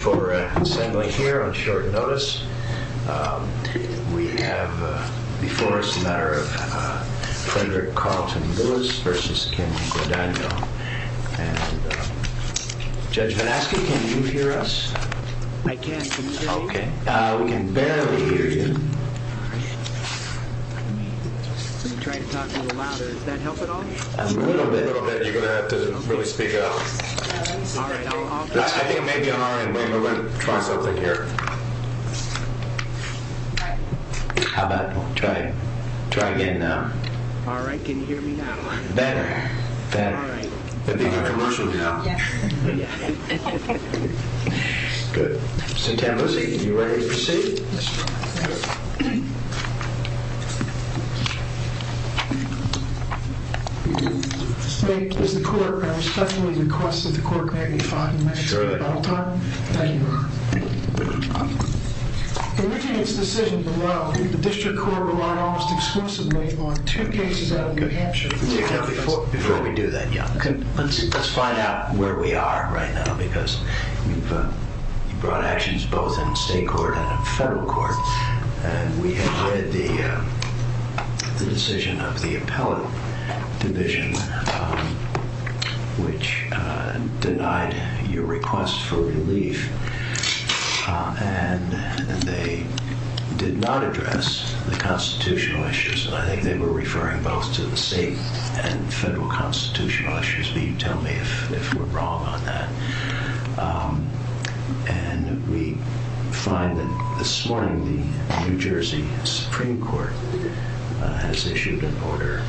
For assembly here on short notice, we have before us a matter of Predator Carlton Willis v. Kim Guadagno. And Judge Valesky, can you hear us? I can. Okay. We can barely hear you. I'm trying to talk a little louder. Does that help at all? A little bit. I think that doesn't really speak out. I think maybe Mara and William are going to try something here. How about trying it now? Mara, I can hear you now. Better. Better. I think my immersion is now. Good. Are you ready to proceed? Yes, Your Honor. Good. Okay. Is the court going to sessionally request that the court magnify the measure at all times? Sure. Thank you, Your Honor. Thank you, Your Honor. In this case, the decision to allow the district court to run almost exclusively on two cases out of the action. Before we do that, let's find out where we are right now because you've brought actions both in state court and in federal court. And we have read the decision of the appellate division, which denied your request for relief. And they did not address the constitutional issues. I think they were referring both to the state and federal constitutional issues. Can you tell me if we're wrong on that? And we find that this morning the New Jersey Supreme Court has issued an order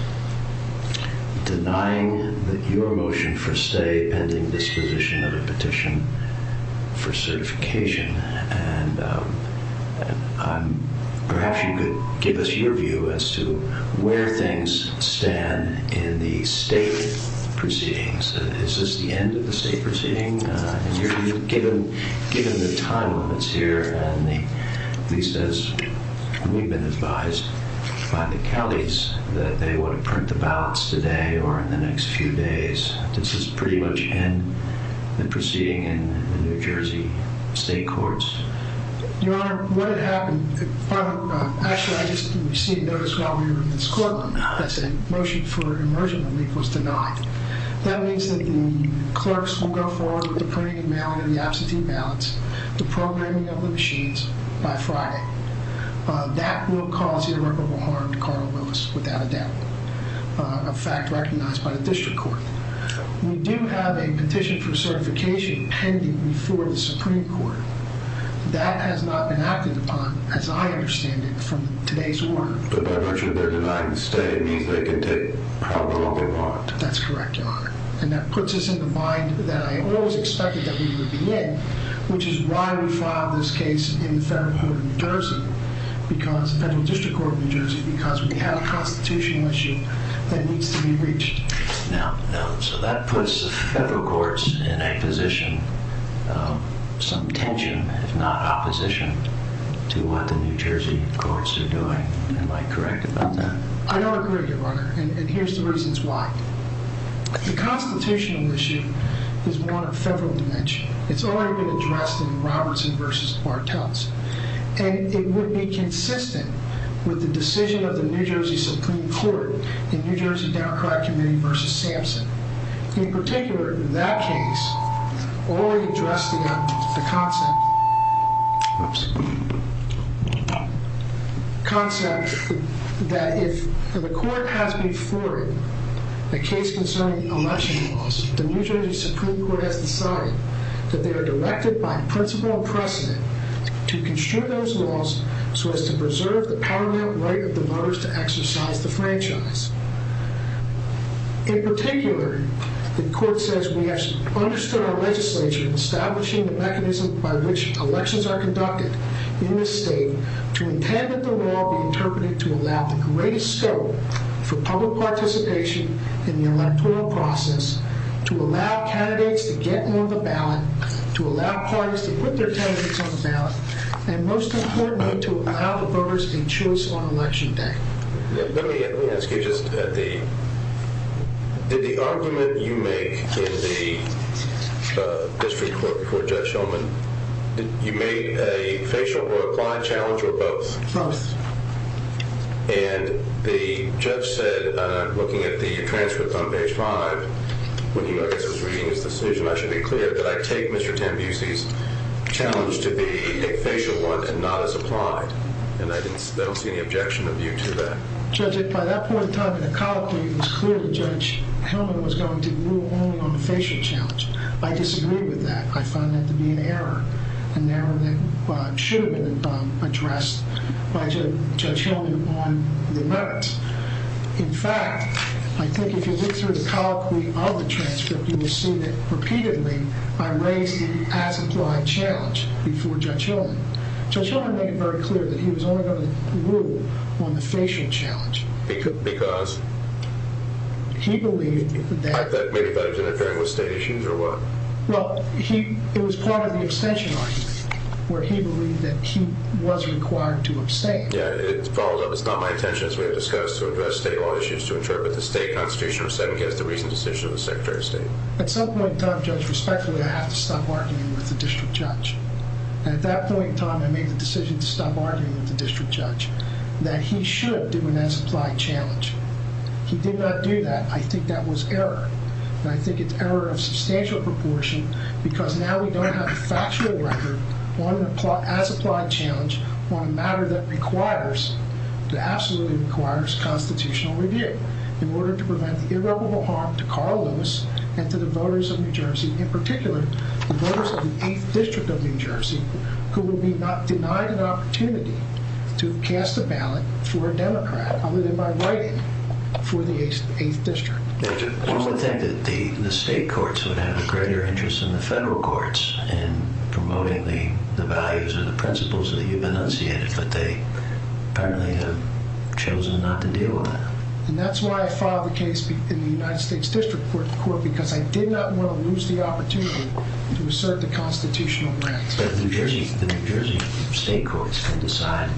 denying your motion for stay and in this position a petition for certification. And perhaps you could give us your view as to where things stand in the state proceedings. Is this the end of the state proceeding? Given the time on this here and at least as we've been advised by the Kellys that they would print the ballots today or in the next few days, this is pretty much the end of the proceeding in the New Jersey state courts. Your Honor, when it happened, actually I just received notice while we were in this courtroom, I said a motion for immersion relief was denied. That means that the clerks will go forward with the printing and mailing of the absentee ballots, the programming of the machines by Friday. That will cause irreparable harm to Carla Willis without a doubt, a fact recognized by the district court. We do have a petition for certification pending before the Supreme Court. That has not been acted upon, as I understand it, from today's order. But there is a guidance that it needs to be taken properly upon. That's correct, Your Honor. And that puts us in the mind that I always expected that we would get, which is why we filed this case in the federal district court of New Jersey, because we have a prosecution issue that needs to be reached. Now, so that puts the federal courts in a position of some tension, if not opposition, to what the New Jersey courts are doing. Am I correct about that? I don't agree with you, Your Honor, and here's the reasons why. The consultation issue is one of federal dimension. It's already been addressed in Robertson v. Bartels. And it would be consistent with the decision of the New Jersey Supreme Court in New Jersey Downtown Community v. Sampson. In particular, in that case, already addressed the concept that if the court has been exploring the case concerning election laws, the New Jersey Supreme Court has decided that they are directed by principle and precedent to construe those laws so as to preserve the parliament right of the voters to exercise the franchise. In particular, the court says we have understood our legislation establishing the mechanism by which elections are conducted in the state to intend that the law be interpreted to allow for great scope for public participation in the electoral process, to allow candidates to get more of a ballot, to allow parties to put their candidates on the ballot, and most importantly, to allow voters to choose on election day. Let me ask you just a... In the argument you made in the district court for Judge Shulman, you made a facial or applied challenge for both. Oh. And the judge said, looking at the transcript on page 5, when he was reviewing his decision, I should be clear that I take Mr. Tampusi's challenge to be a facial one and not as applied, and I don't see any objection with you to that. Judge, at that point in time in the colloquy, it was clear that Judge Shulman was going to move on from the facial challenge. I disagreed with that. I found that to be an error. And that should have been addressed by Judge Shulman on the left. In fact, I think if you look through the colloquy of the transcript, you will see that, repeatedly, I raised an as-applied challenge before Judge Shulman. Judge Shulman made it very clear that he was only going to move on the facial challenge. He couldn't because... He believed that... I disagree, but I didn't care if it was state issues or what. Well, it was part of the abstention argument, where he believed that he was required to abstain. Yeah, it follows up. It's not my intention, as we have discussed, to address state law issues, to interpret the state constitution as the reason for the decision of the Secretary of State. At some point in time, Judge, respectfully, I had to stop arguing with the district judge. At that point in time, I made the decision to stop arguing with the district judge, that he should do an as-applied challenge. He did not do that. I think that was error. And I think it's error in a substantial proportion because now we don't have a factual record on the as-applied challenge on a matter that absolutely requires constitutional review in order to prevent irreparable harm to Carl Lewis and to the voters of New Jersey, in particular, the voters of the 8th District of New Jersey, who will be not denied an opportunity to cast a ballot for a Democrat other than by writing for the 8th District. Judge, I want to thank the state courts, who have a greater interest than the federal courts in promoting the values and the principles that you've enunciated, but they apparently have chosen not to do that. And that's why I filed the case in the United States District Court, because I did not want to lose the opportunity to assert the constitutional rights. The New Jersey state courts can decide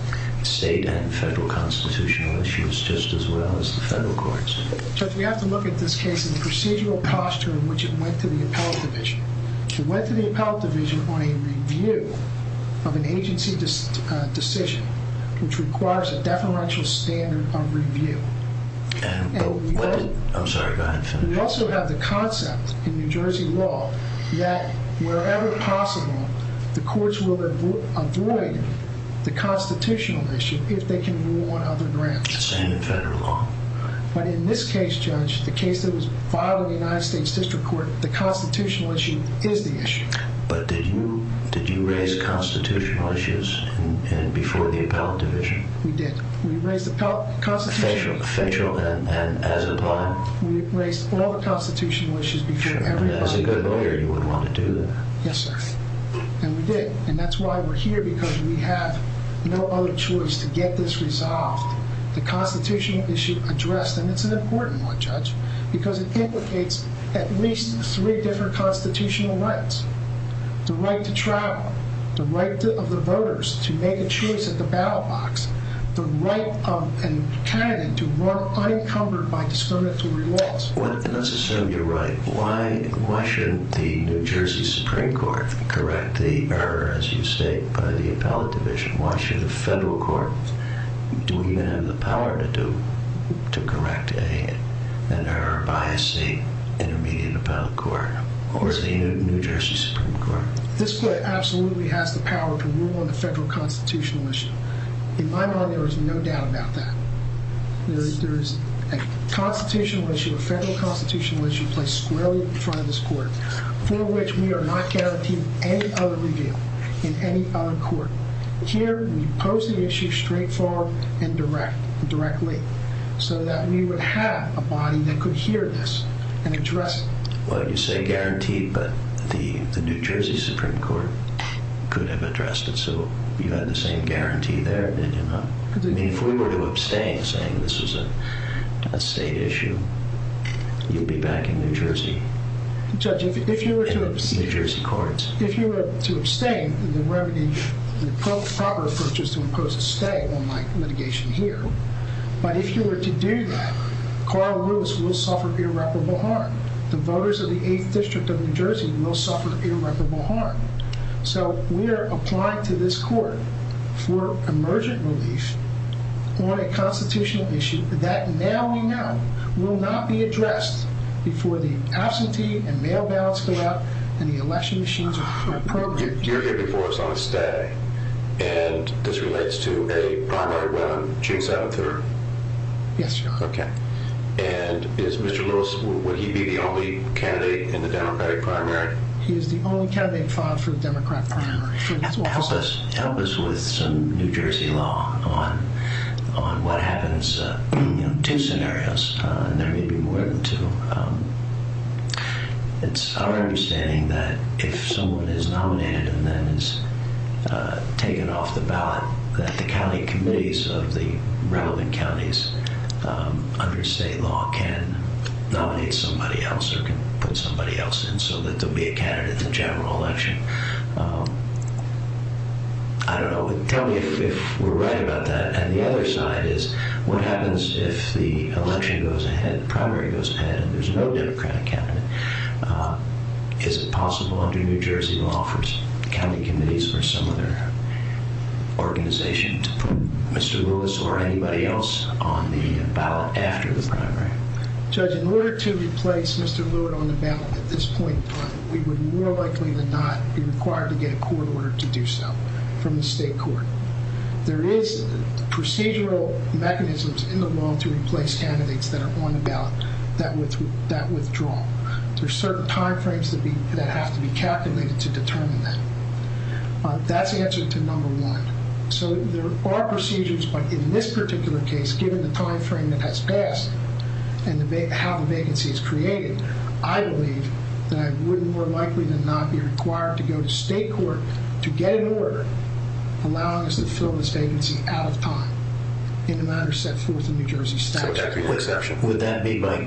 state and federal constitutional issues just as well as the federal courts. Judge, we have to look at this case in procedural posture in which it went to the appellate division. It went to the appellate division on a review of an agency decision, which requires a definitional standard of review. And we also have the concept in New Jersey law that wherever possible, the courts will avoid the constitutional issue if they can rule on other grounds. But in this case, Judge, the case that was filed in the United States District Court, the constitutional issue is the issue. But did you raise constitutional issues before the appellate division? We did. We raised the constitutional issues. Facial and as a client. We raised all the constitutional issues before the appellate division. And as a good lawyer, you would want to do that. Yes, sir. And we did. And that's why we're here, because we have no other choice to get this resolved. The constitutional issue addressed, and it's an important one, Judge, because it indicates at least three different constitutional rights. The right to trial. The right of the voters to make a choice at the ballot box. The right of a candidate to work unencumbered by discriminatory laws. Let's assume you're right. Why shouldn't the New Jersey Supreme Court correct the error, as you say, by the appellate division? Why shouldn't the federal court? Do you have the power to correct an error by, say, an immediate appellate court or the New Jersey Supreme Court? This court absolutely has the power to rule on the federal constitutional issue. In my mind, there is no doubt about that. There is a constitutional issue, a federal constitutional issue, placed squarely in front of this court, for which we are not guaranteed any other review in any other court. Here, we pose the issue straightforward and directly so that we would have a body that could hear this and address it. Well, you say guaranteed, but the New Jersey Supreme Court could have addressed it, so you have the same guarantee there. I mean, if we were to abstain, saying this is a state issue, you'd be backing New Jersey. Judge, if you were to abstain... New Jersey courts. If you were to abstain, you'd be wearing the proper approaches to impose a stay, unlike litigation here. But if you were to do that, Carl Lewis will suffer irreparable harm. The voters of the 8th District of New Jersey will suffer irreparable harm. So we are applying to this court for emergent relief on a constitutional issue that now we know will not be addressed before the absentee and bail ballots go out and the election machines are programmed. You're here before us on a stay, and this relates to a primary win on June 7th. Yes, sir. Okay. And is Mr. Lewis, would he be the only candidate in the Democratic primary? He is the only candidate in charge for the Democrat primary. Help us with some New Jersey law on what happens in two scenarios. There may be more than two. It's our understanding that if someone is nominated and then is taken off the ballot, that the county committees of the relevant counties under state law can nominate somebody else or can put somebody else in so that they'll be a candidate in the general election. I don't know. Tell me if we're right about that. The other side is what happens if the election goes ahead, the primary goes ahead, and there's no Democratic candidate. Is it possible under New Jersey law for some county committees or some of their organizations, Mr. Lewis or anybody else, on the ballot after the primary? Judge, in order to replace Mr. Lewis on the ballot at this point in time, we would more likely than not be required to get a court order to do so from the state court. There is procedural mechanisms in the law to replace candidates that are on the ballot that withdraw. There are certain timeframes that have to be captivated to determine that. That's the answer to number one. So there are procedures, but in this particular case, given the timeframe that has passed and how the vacancy is created, I believe that I would more likely than not be required to go to state court to get an order allowing us to fill this vacancy out of time, even though I understand that's what the New Jersey statute says. Would that be by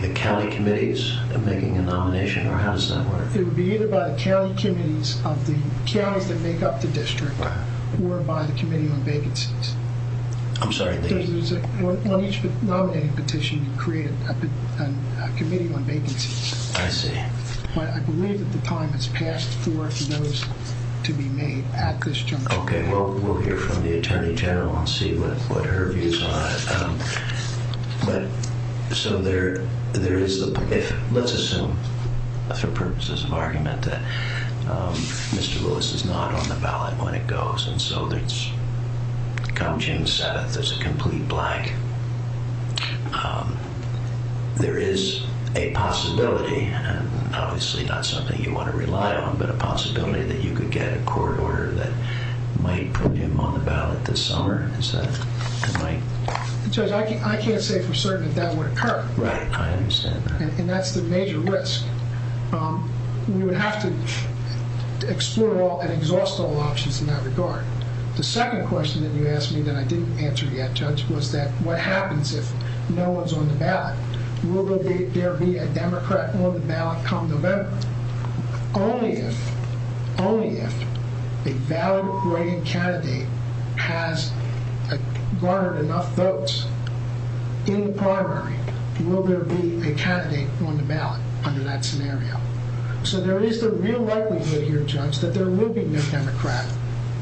the county committees that are making the nomination, or how does that work? It would be either by the county committees of the county that make up the district or by the committee on vacancies. I'm sorry. You know, each nominating petition creates a committee on vacancies. I see. I believe that the time has passed for those to be made at this juncture. Okay. Well, we'll hear from the attorney general and see what her view is on it. But so there is the point. Let's assume for purposes of argument that Mr. Willis is not on the ballot when it goes, and so it comes to himself as a complete black. There is a possibility, obviously not something you want to rely on, but a possibility that you could get a court order that might put him on the ballot this summer. I can't say for certain that that would occur. Right. I understand. And that's the major risk. You would have to explore all and exhaust all options in that regard. The second question that you asked me that I didn't answer yet, Judge, was that what happens if no one's on the ballot? Will there be a Democrat on the ballot come November? Only if, only if, a valedictorian candidate has garnered enough votes in primary, will there be a candidate on the ballot under that scenario? So there is the real likelihood, Judge, that there will be no Democrat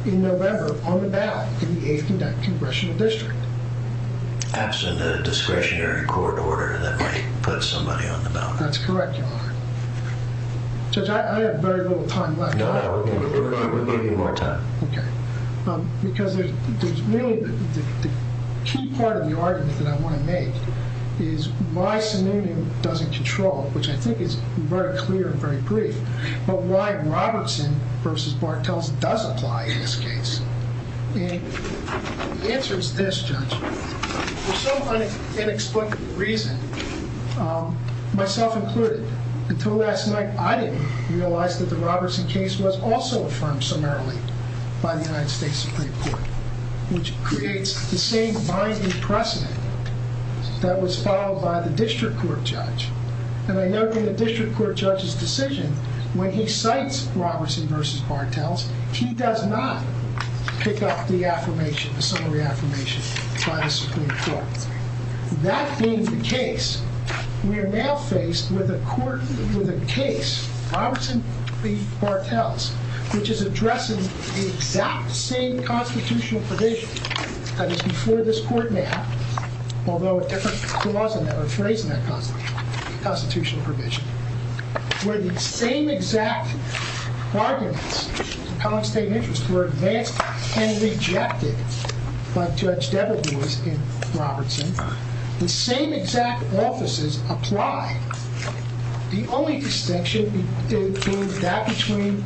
in November on the ballot to be aiding that congressional district. That's the discretionary court order that might put somebody on the ballot. That's correct, Your Honor. Judge, I have very little time left. No, we're not going to give you more time. Okay. Because there's really the key part of the argument that I want to make is why Samoonian doesn't control, which I think is very clear and very brief, but why Robertson v. Bartels does apply in this case. And the answer is this, Judge. There's so many inexplicable reasons, myself included. Until last night, I didn't realize that the Robertson case was also affirmed summarily by the United States Supreme Court, which creates the same binding precedent that was followed by the district court judge. And I note in the district court judge's decision, when he cites Robertson v. Bartels, he does not pick up the affirmation, the summary affirmation by the Supreme Court. That being the case, we are now faced with a court with a case, Robertson v. Bartels, which is addressing the exact same constitutional provision that is before this court now, although a different clause I never phrased in that constitutional provision, where the same exact bargains of constant interest were advanced and rejected by Judge W. Lewis v. Robertson. The same exact offices apply. The only distinction is that between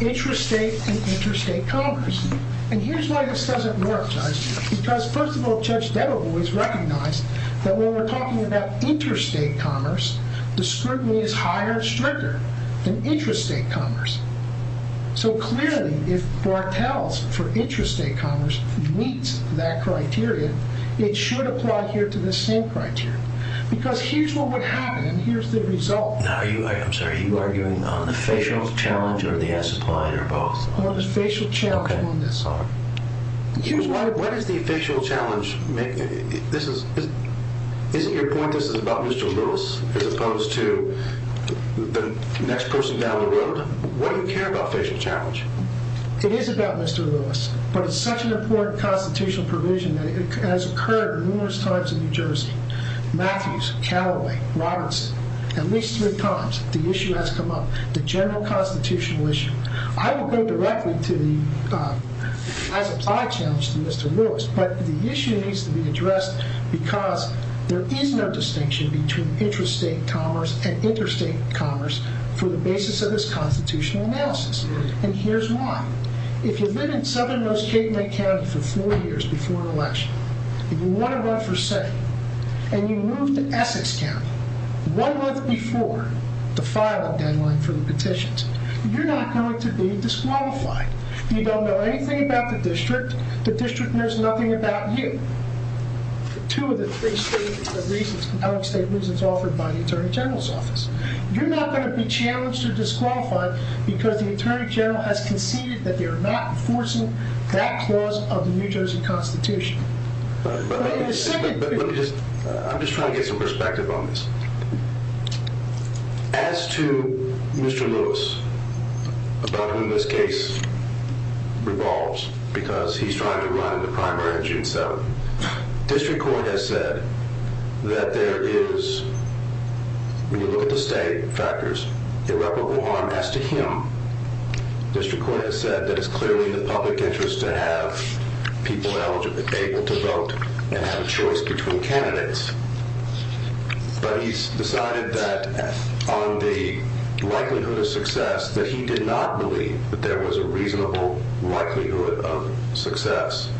intrastate and interstate commerce. And here's why this doesn't work, Judge, because, first of all, Judge Becker always recognized that when we're talking about interstate commerce, the scrutiny is higher and stricter than interstate commerce. So clearly, if Bartels, for interstate commerce, meets that criteria, it should apply here to the same criteria. Because here's what would happen and here's the result. Now, I'm sorry. Are you arguing on the facial challenge or the S-applied or both? On the facial challenge, that's all. You are? What is the official challenge? This is, isn't your point that this is about Mr. Lewis as opposed to the next person down the road? What do we care about facial challenge? It is about Mr. Lewis, but it's such an important constitutional provision that it has occurred in numerous times in New Jersey. Matthews, Calaway, Robertson, at least three times, the issue has come up, the general constitutional issue. I will go directly to the S-applied challenge to Mr. Lewis, but the issue needs to be addressed because there is no distinction between intrastate commerce and interstate commerce for the basis of this constitutional analysis. And here's why. If you've been in Southern Mississippi County for four years before an election, you want to run for Senate, and you move to Essex County one month before the filing deadline for the petitions, you're not going to be disqualified. You don't know anything about the district. The district knows nothing about you. Two of the state reasons offered by the Attorney General's office. You're not going to be challenged or disqualified because the Attorney General has conceded that they are not enforcing that clause of the New Jersey Constitution. I'm just trying to get some perspective on this. As to Mr. Lewis, about whom this case revolves, because he's trying to run the primary on June 7th, district court has said that there is, when you look at the state factors, 11-1, as to him, district court has said that it's clearly in the public interest to have people eligible to vote and have a choice between candidates. But he's decided that on the likelihood of success that he did not believe that there was a reasonable likelihood of success.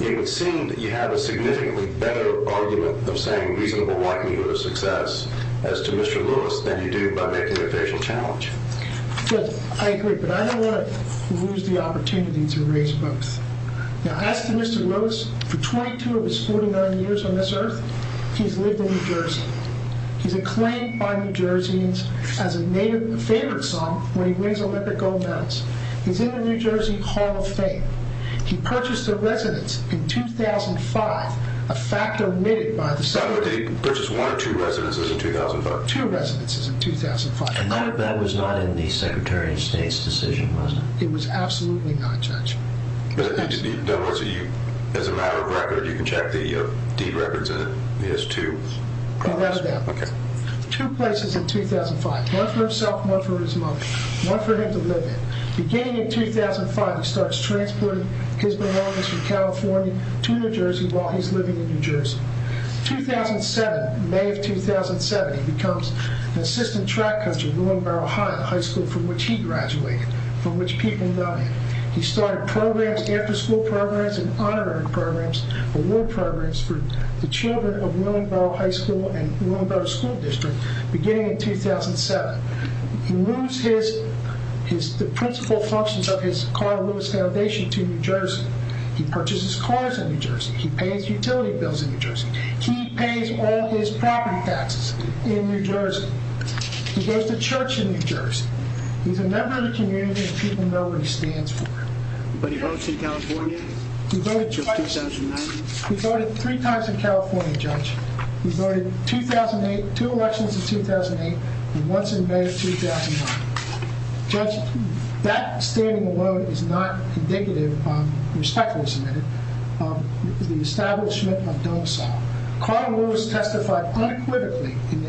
It would seem that you have a significantly better argument of saying I agree, but I don't want to lose the opportunity to raise both. Now, as to Mr. Lewis, for 22 of his 49 years on this earth, he's lived in New Jersey. He's acclaimed by New Jerseys as a native favorite song when he wins Olympic gold medals. He's in the New Jersey Hall of Fame. He purchased a residence in 2005, a fact omitted by the statute. He purchased one or two residences in 2005? Two residences in 2005. And none of that was not in the Secretary of State's decision, was it? It was absolutely not, Judge. As a matter of fact, if you check the deed records, it is two. Oh, that's right. Two places in 2005, one for himself, one for his mother, one for him to live in. Beginning in 2005, he starts transporting his belongings from California to New Jersey while he's living in New Jersey. 2007, May of 2007, he becomes an assistant track coach at William Barrow High School, from which he graduated, from which he ended up. He started programs, after school programs and honorary programs, award programs for the children of William Barrow High School and William Barrow School District, beginning in 2007. He moves the principal functions of his Carl Lewis Foundation to New Jersey. He purchases cars in New Jersey. He pays utility bills in New Jersey. He pays all of his property taxes in New Jersey. He goes to church in New Jersey. He's a member of the community and people know what he stands for. But he voted in California in 2009? He voted three times in California, Judge. He voted two elections in 2008 and once in May 2009. Judge, that standing alone is not indicative of the establishment of domicile. Carl Lewis testified unequivocally in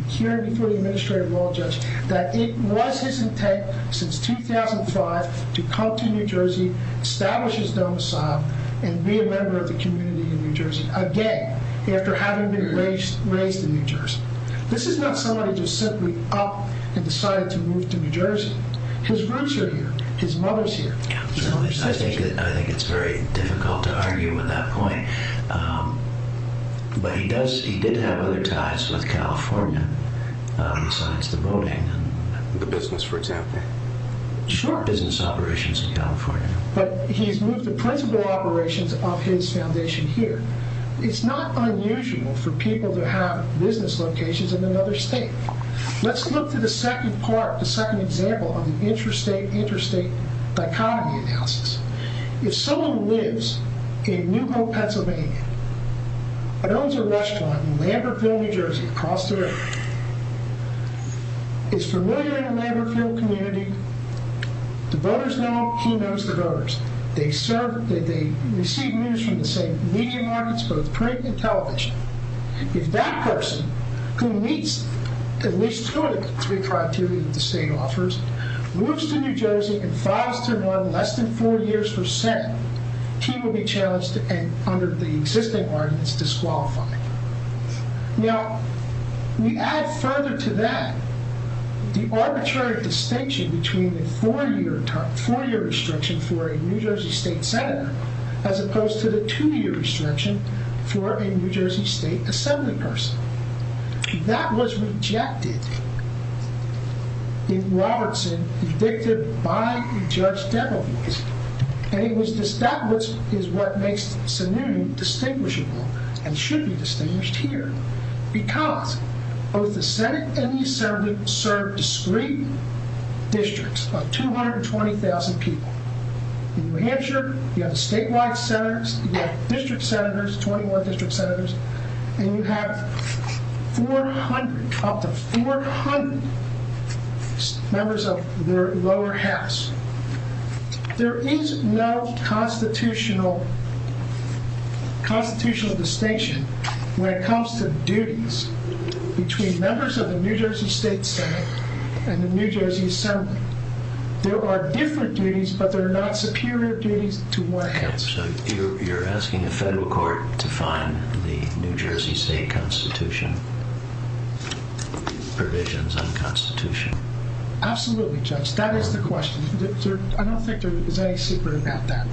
the hearing before the Administrative Law Judge that it was his intent since 2005 to come to New Jersey, establish his domicile, and be a member of the community in New Jersey, again, after having been raised in New Jersey. This is not someone who just simply up and decided to move to New Jersey. His roots are here. His mother's here. I think it's very difficult to argue with that point. But he did have other ties with California besides the voting. The business for example. Sure. Business operations in California. But he's moved the principal operations of his foundation here. It's not unusual for people to have business locations in another state. Let's look at the second part, the second example of interstate, interstate dichotomy. If someone lives in New Hope, Pennsylvania, and owns a restaurant in Lambertville, New Jersey across the river, is familiar with the Lambertville community, the voters know he knows the voters. They serve, they receive news from the same media markets, both print and television. If that person, who meets at least two of the three criteria that the state offers, moves to New Jersey and files for less than four years for sin, he will be challenged under the existing arguments disqualified. Now, we add further to that the arbitrary distinction between a four-year term, a four-year restriction for a New Jersey state senator, as opposed to the two-year restriction for a New Jersey state assembly person. That was rejected in Robertson, convicted by the judge's deputies. And it was, that is what makes the scenario distinguishable and should be distinguished here. Because both the senate and the assembly serve discrete districts of 220,000 people. In New Hampshire, you have statewide senators, you have district senators, 21 district senators, and you have 400 members of the lower house. There is no constitutional distinction when it comes to duties between members of the New Jersey state senate and the New Jersey assembly. There are different duties, but they're not superior duties to one another. So you're asking the federal court to find the New Jersey state constitution, the provisions of the constitution? Absolutely, Judge. That is the question. I don't think there is any secret about that.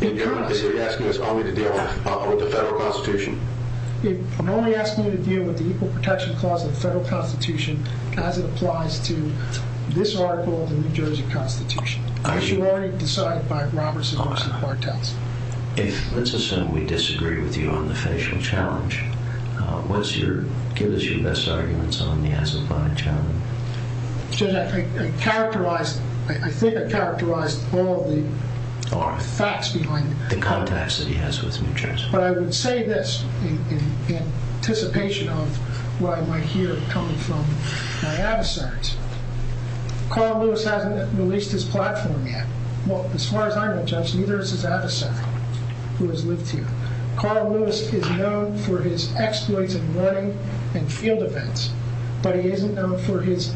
You're not basically asking us only to deal with the federal constitution. You're only asking me to deal with the Equal Protection Clause of the federal constitution as it applies to this article of the New Jersey constitution, which you already decided by Robertson, Austin, and Hortense. If this assembly disagreed with you on the finishing challenge, what's your view as to this argument? Judge, I think I've characterized all the facts behind it. The contacts that he has with New Jersey. But I would say this in anticipation of what I might hear coming from the data centers. Carl Lewis hasn't released his platform yet. Well, as far as I know, Judge, neither has the data center who has lived here. Carl Lewis is known for his exploits in running and field events, but he isn't known for his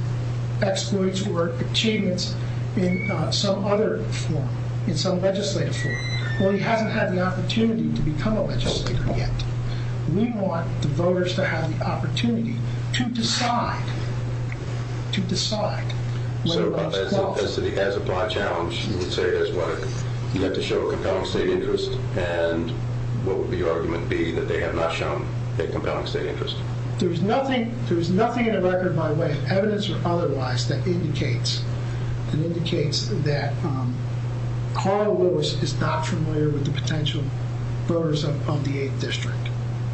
exploits or achievements in some other form, in some legislative form. Well, he hasn't had an opportunity to become a legislator yet. We want the voters to have the opportunity to decide, to decide. So as to the answer to my challenge, you have to show a compelling state interest, and what would the argument be that they have not shown a compelling state interest? There's nothing in the record, by the way, if evidence or otherwise, that indicates that Carl Lewis is not familiar with the potential voters of the 8th District.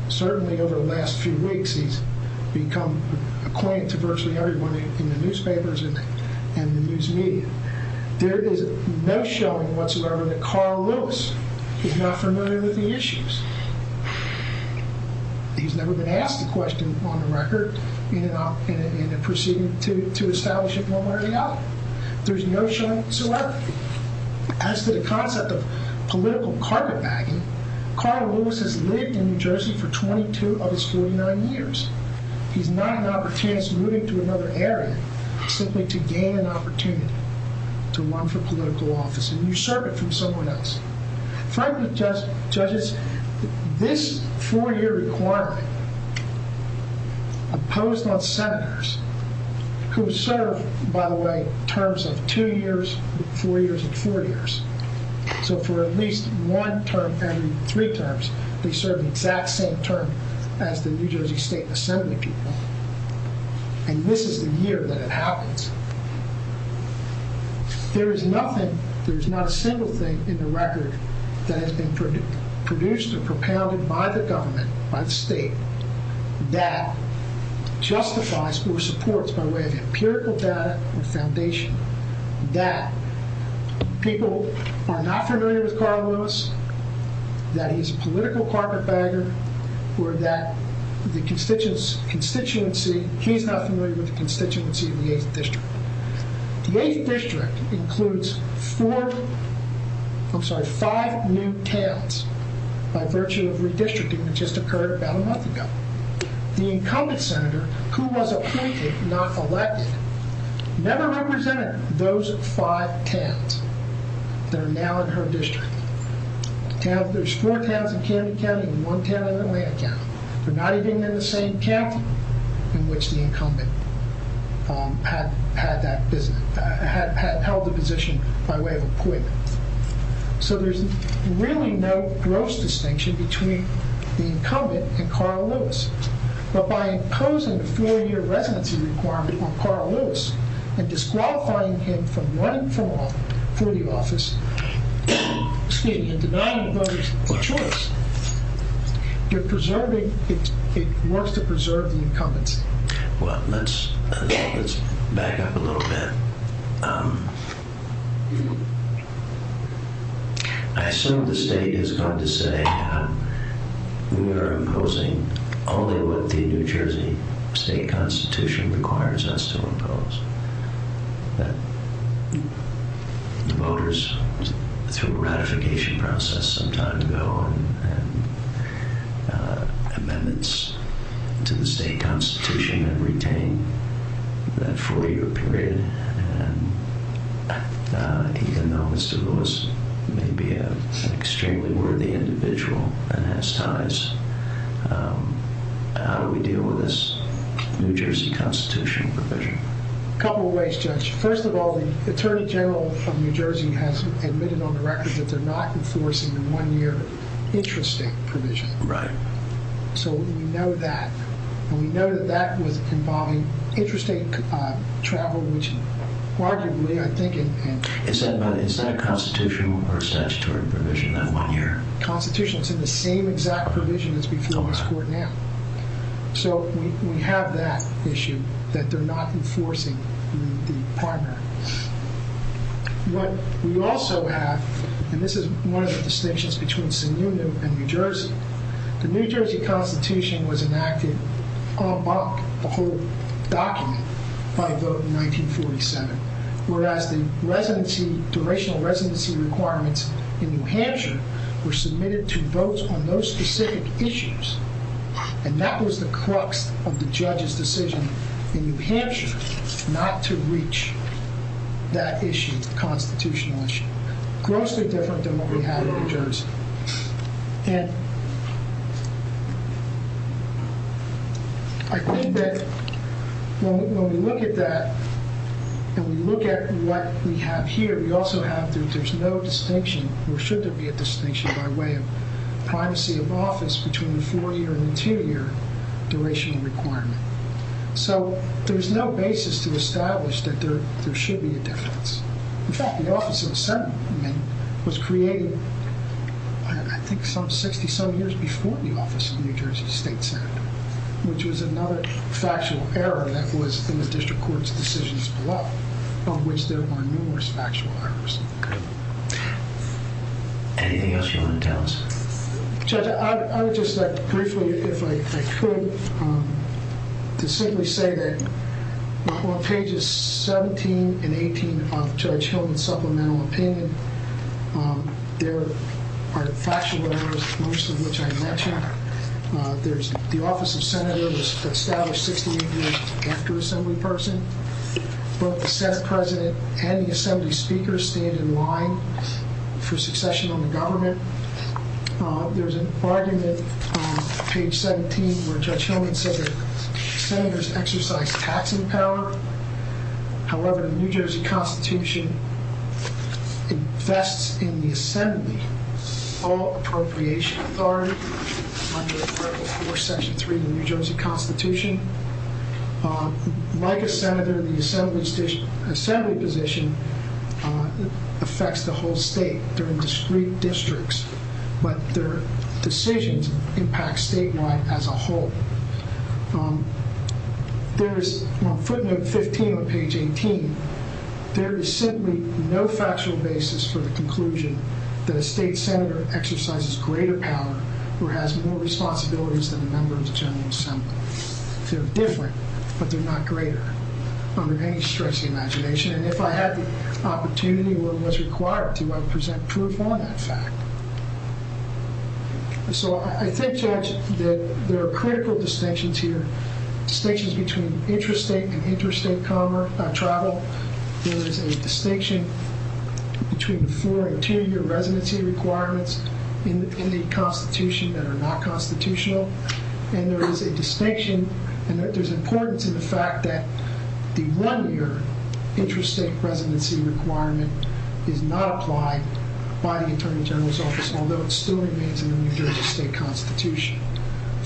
Certainly over the last few weeks, he's become acquainted to virtually everyone in the newspapers and the news media. There is no showing whatsoever that Carl Lewis is not familiar with the issues. He's never been asked a question on the record, and he's been pursuing to establish it no matter how. There's no showing whatsoever. As to the concept of political carpetbagging, Carl Lewis has lived in New Jersey for 22 of his 49 years. He's not an opportunist moving to another area simply to gain an opportunity. To run for political office. And you serve it from someone else. I'm trying to suggest, judges, this four-year requirement imposed on senators who serve, by the way, terms of two years, four years, and four years. So for at least one term, every three terms, they serve the exact same term as the New Jersey State Assembly people. And this is the year that it happens. There is nothing, there is not a single thing in the record that has been produced or propounded by the government, by the state, that justifies or supports, by way of empirical data and foundation, that people are not familiar with Carl Lewis, that he's a political carpetbagger, or that the constituency, he's not familiar with the constituency of the 8th District. The 8th District includes four, I'm sorry, five new towns by virtue of redistricting that just occurred about a month ago. The incumbent senator, who was a precinct, not elected, never represented those five towns that are now in her district. There's four towns in Kennedy County, one town in Atlanta County. They're not even in the same county. In which the incumbent had held the position by way of acquittal. So there's really no gross distinction between the incumbent and Carl Lewis. But by imposing the four-year residency requirement on Carl Lewis, and disqualifying him from running for the office, excuse me, the non-voting choice, you're preserving, it wants to preserve the incumbent. Well, let's back up a little bit. I still have to say, it's hard to say, we are imposing, although the New Jersey state constitution requires us to impose, that voters, through a ratification process some time ago, and amendments to the state constitution that retain that four-year period, and even though I suppose he may be an extremely worthy individual and has ties, how do we deal with this New Jersey constitution? A couple of ways, Judge. First of all, the Attorney General of New Jersey has admitted on the record that they're not enforcing the one-year interest state provision. Right. So we know that. And we know that that would involve interest state travel, which largely we are thinking... Is that constitutional or statutory provision, that one-year? Constitution is in the same exact provision as before this court now. So we have that issue, that they're not enforcing the pattern. What we also have, and this is one of the distinctions between Sonoma and New Jersey, the New Jersey constitution was enacted about the whole document by vote in 1947, whereas the duration of residency requirements in New Hampshire were submitted to votes on those specific issues, and that was the crux of the judge's decision in New Hampshire not to reach that issue, the constitutional issue. Grossly different than what we had in New Jersey. And I think that when we look at that and we look at what we have here, we also have that there's no distinction, or should there be a distinction by way of privacy of office between the four-year and the two-year duration requirement. So there's no basis to establish that there should be a difference. In fact, the Office of the Senate was created, I think, some 60-some years before the Office of the New Jersey State Senate, which was another factual error that was in the district court's decisions below, on which there were numerous factual errors. Anything else you want to tell us? Judge, I would just like to briefly, if I could, to simply say that on pages 17 and 18 of Judge Hillman's supplemental opinion, there are factual errors, most of which I didn't mention. The Office of the Senator was established 60 years after Assemblyperson, but the Senate president and the Assembly speaker stand in line for succession on the government. There's an argument on page 17 where Judge Hillman said that Senators exercise taxing power. However, the New Jersey Constitution invests in the Assembly all appropriation authority under Section 3 of the New Jersey Constitution. Like a Senator, the Assembly position affects the whole state. They're in discrete districts, but their decisions impact statewide as a whole. There is, on footnote 15 on page 18, there is simply no factual basis for the conclusion that a state Senator exercises greater power or has more responsibilities than a member of the General Assembly. They're different, but they're not greater. I'm going to stress the imagination, and if I had the opportunity or was required to, I'd present proof on that fact. So I think, Judge, that there are critical distinctions here, distinctions between interstate and interstate travel. There is a distinction between the four- and two-year residency requirements in the Constitution that are not constitutional, and there is a distinction, and there is importance in the fact that the one-year interstate residency requirement did not apply by the Attorney General's office, although it still remains in the New Jersey State Constitution.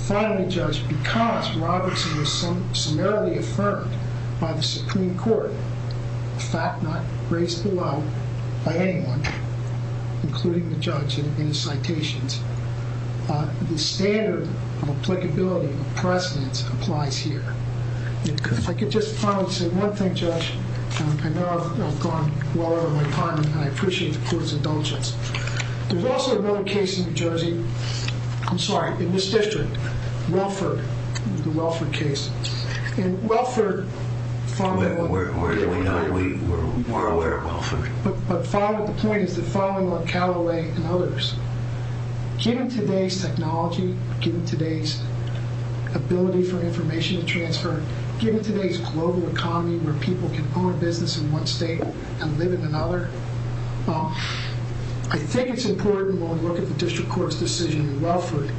Finally, Judge, because Robertson was summarily affirmed by the Supreme Court, in fact not raised alone by anyone, including the judge in citations, the standard applicability precedent applies here. If I could just finally say one thing, Judge. I know I've gone long on my time, and I appreciate the court's indulgence. There's also another case in New Jersey. I'm sorry, in this district, Welford, the Welford case. In Welford, following on... We're more aware of Welford. But the point is that following on Callaway and others, given today's technology, given today's ability for information transfer, given today's global economy where people can own a business in one state and live in another, I think it's important when we look at the district court's decision in Welford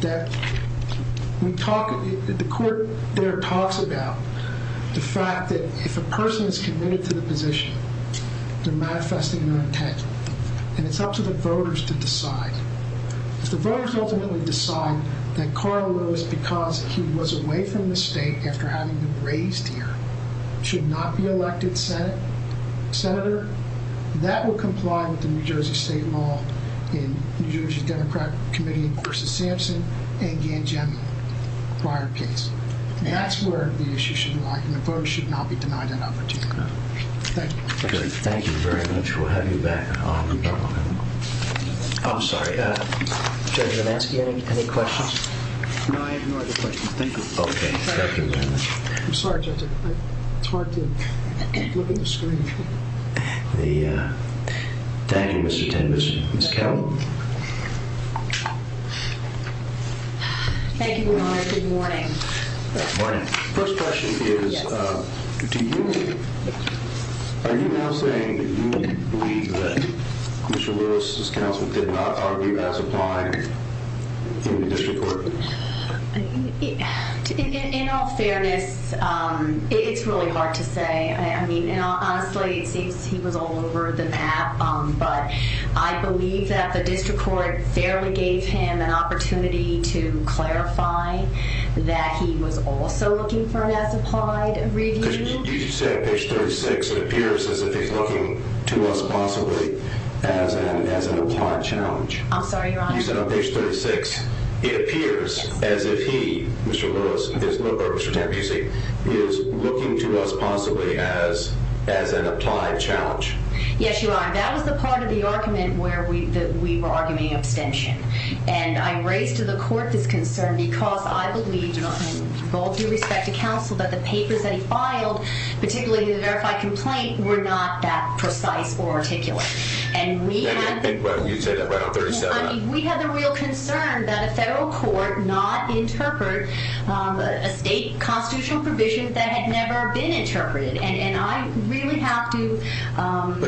that the court there talks about the fact that if a person is committed to the position, they're manifesting their intent, and it's up to the voters to decide. If the voters ultimately decide that Carl Rose, because he was away from the state after having raised here, should not be elected senator, that would comply with the New Jersey State Law in the New Jersey Democrat Committee v. Sampson and the Anjani Fired case. That's where the issue should lie. The voters should not be denied that opportunity. Thank you. Thank you very much. We'll have you back. I'm sorry. Judge, did I ask you any questions? No, I just wanted to think about any questions. I'm sorry, Judge. It's hard for you. I think it's really true. Thank you, Mr. Tenders and Ms. Callaway. Thank you, Your Honor. Good morning. Good morning. The first question is, do you believe, do you believe that Mr. Lewis' counsel did not argue that's implied in the district court? In all fairness, it is really hard to say. I mean, and honestly, he was all over the map, but I believe that the district court barely gave him an opportunity to clarify that he was also looking for an asserted review. You said page 36. It appears as if he's looking to us possibly as an implied challenge. I'm sorry, Your Honor. You said page 36. It appears as if he, Mr. Lewis, is looking to us possibly as an implied challenge. Yes, Your Honor. That was the part of the argument where we were arguing abstention. And I raised to the court this concern because I believe, and I do respect the counsel, but the papers that he filed, particularly the verified complaint, were not that precise or articulate. And we have a real concern that a federal court not interpret a state constitutional provision that had never been interpreted. But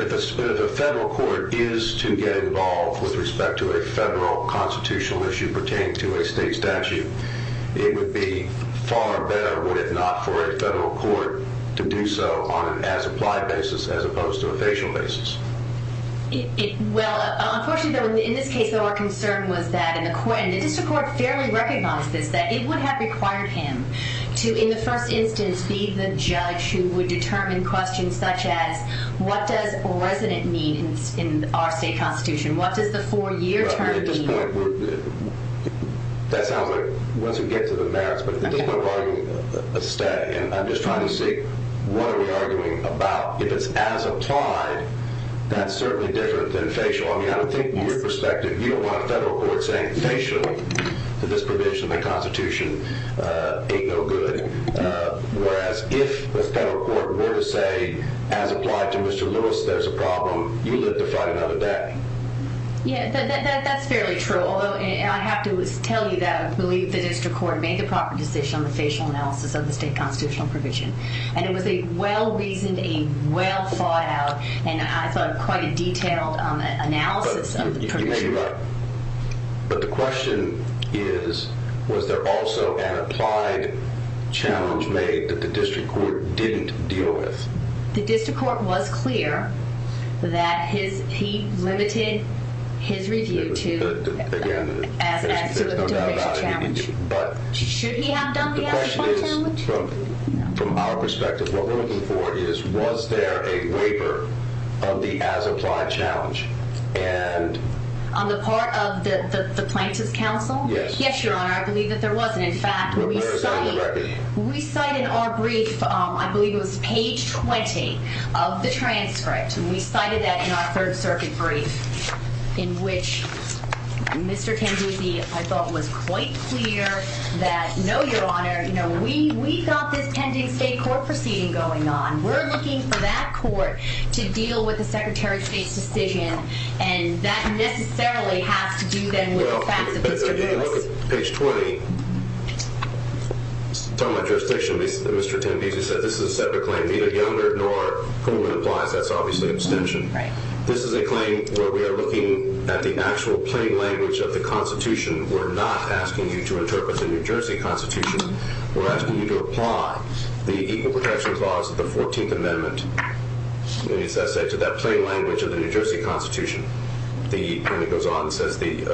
if the federal court is to get involved with respect to a federal constitutional issue pertaining to a state statute, it would be far better, would it not, for a federal court to do so on an as-implied basis as opposed to a facial basis. Well, unfortunately, in this case, our concern was that in the court, the federal court fairly recognizes that it would have required him to, in the first instance, be the judge who would determine questions such as, what does a resident mean in our state constitution? What does the four-year term mean? That's how it was against the facts. But this is an argument of a state, and I'm just trying to see what are we arguing about. Because as applied, that's certainly different than facial. I mean, I don't think, from your perspective, you don't want a federal court saying, facially, that this provision in the Constitution ain't no good, whereas if the federal court were to say, as applied to Mr. Lewis, there's a problem, you live to fight another day. Yeah, that's fairly true. Although I have to tell you that I believe the district court made the proper decision on the facial analysis of the state constitutional provision. And it was a well-reasoned, a well-thought-out, and I thought, quite a detailed analysis of the Constitution. But the question is, was there also an applied challenge made that the district court didn't deal with? The district court was clear that he limited his review to, again, as an application challenge. Should he have done the application challenge? The question is, from our perspective, what we're looking for is, was there a waiver of the as-applied challenge? On the part of the Plaintiffs' Council? Yes. Yes, Your Honor, I believe that there was. In fact, we cited our brief, I believe it was page 20 of the transcript, and we cited that in our Third Circuit brief, in which Mr. Tambisi, I thought, was quite clear that, no, Your Honor, we thought this tended to be a court proceeding going on. We're looking for that court to deal with the Secretary of State's decision, and that necessarily has to do, then, with the facts of the decision. Well, if you look at page 20, from my jurisdiction, Mr. Tambisi said this is a separate claim. This is a claim where we are looking at the actual plain language of the Constitution. We're not asking you to interpret the New Jersey Constitution. We're asking you to apply the Egal Protection Clause of the 14th Amendment, let me just say, to that plain language of the New Jersey Constitution. The attorney goes on and says the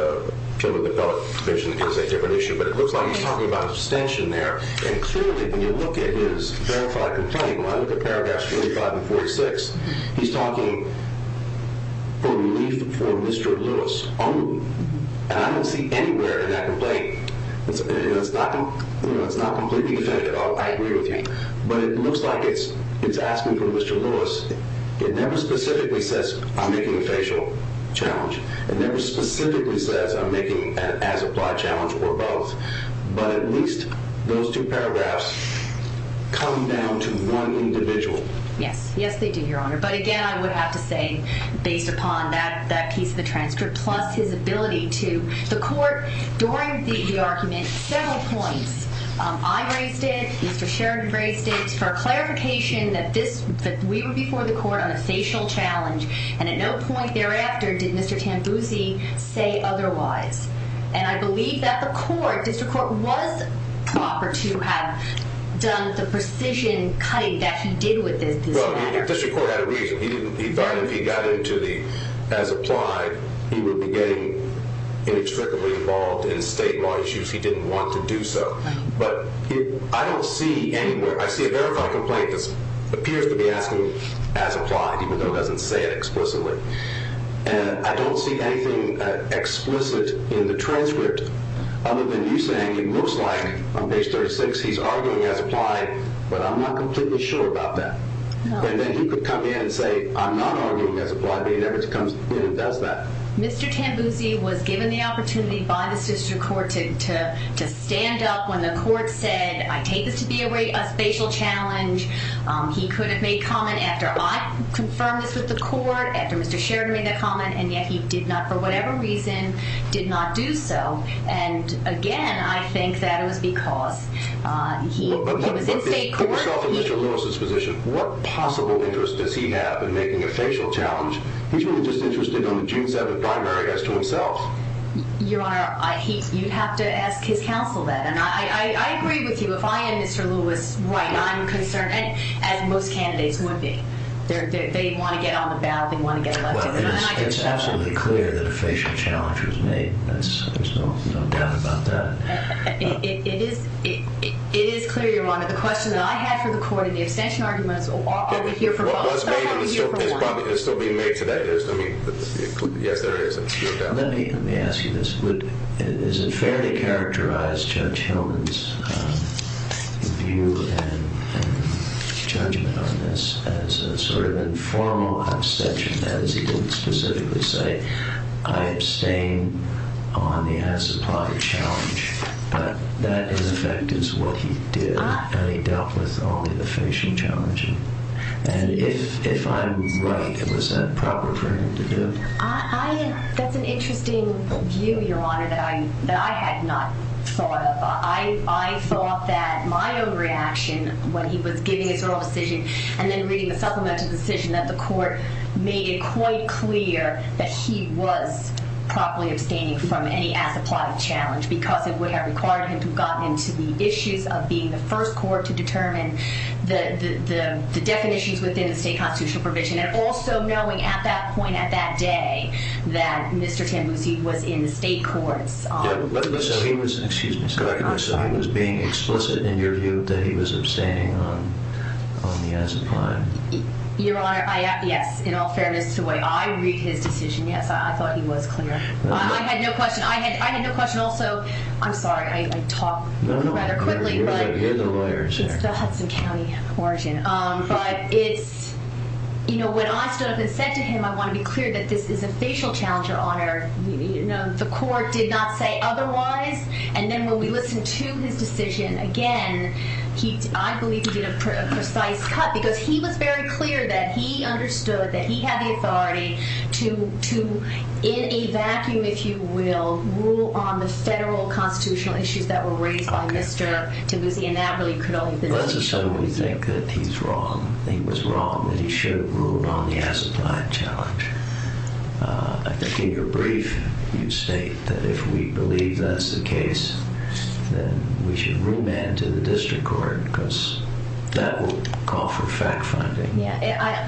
children with adult conditions is a different issue, but it looks like he's talking about an extension there. And clearly, when you look at his verified complaint, one of the paragraphs, page 546, he's talking for relief for Mr. Lewis. I don't see anywhere in that complaint that it's not completely definitive. I agree with you. But it looks like it's asking for Mr. Lewis. It never specifically says, I'm making a facial challenge. It never specifically says, I'm making an as-applied challenge or both. But at least those two paragraphs come down to one individual. Yes. Yes, thank you, Your Honor. But again, I would have to say, based upon that piece of the transcript, plus his ability to support during the argument several points. I raised this, Mr. Sheridan raised this, for a clarification that we were before the court on a facial challenge, and at no point thereafter did Mr. Tambisi say otherwise. And I believe that the court, Mr. Court, was proper to have done the precision cutting that he did with this. Well, the official court had a reason. He got into the as-applied. He would be getting inextricably involved in state law if he didn't want to do so. But I don't see anywhere. I see a verified complaint that appears to be asking as-applied, even though it doesn't say it explicitly. And I don't see anything explicit in the transcript other than you saying, it looks like on page 36 he's arguing as-applied, but I'm not completely sure about that. And then he could come in and say, I'm not arguing as-applied, but he never comes in and does that. Mr. Tambisi was given the opportunity by the official court to stand up when the court said, I take this to be a facial challenge. He could have made a comment after I confirmed this with the court, after Mr. Sheridan made a comment, and yet he did not, for whatever reason, did not do so. And, again, I think that was because he could have made comments. But for a self-admission diagnosis physician, what possible interest does he have in making a facial challenge? He's really just interested on the gene set of the primary as to himself. Your Honor, you'd have to ask his counsel that. I agree with you. If I did, Mr. Lewis, what I'm concerned, as most candidates would be, that they want to get on the ballot, they want to get elected. It's absolutely clear that a facial challenge was made. There's no doubt about that. It is clear, Your Honor. The question that I have for the court in the extension argument is, are we here for one or are we here for more? Well, it's made in a certain place, but it's still being made today. It could be, yes, there is, I'm sure about that. Now, let me ask you this. Is it fairly characterized, Judge Hillman's view and Judge Nelson's, as a sort of informal obsession, as he didn't specifically say, I abstain on the as-a-product challenge. That, in effect, is what he did. And he dealt with only the facial challenge. And if I'm right, was that proper for him to do? That's an interesting view, Your Honor, that I had not thought of. I thought that my own reaction, when he was giving his own decision and then reading the supplementary decision, that the court made it quite clear that he was properly abstaining from any as-a-product challenge because it would have required him to have gotten into the issue of being the first court to determine the definitions within the state constitutional provision and also knowing at that point, at that day, that Mr. Tempe was in the state court. But he was being explicit in your view that he was abstaining on the as-a-prime. Your Honor, yes, in all fairness to the way I read his decision, yes, I thought he was clear. I had no question. I had no question. Also, I'm sorry, I talk a little better quickly. No, no, you're the lawyer here. It's the Huston County origin. But, you know, when I stood up and seconded him, I want to be clear that this is a facial challenge, Your Honor. The court did not say otherwise. And then when we listened to his decision, again, I believe he made a precise cut because he was very clear that he understood that he had the authority to, in a vacuum, if you will, rule on the federal constitutional issues that were raised by Mr. Tempe, and that really could only have been. Well, so we think that he's wrong. He was wrong and he should have ruled on the as-a-prime challenge. I think in your brief, you state that if we believe that's the case, then we should remand to the district court because that would call for fact-finding. Yeah,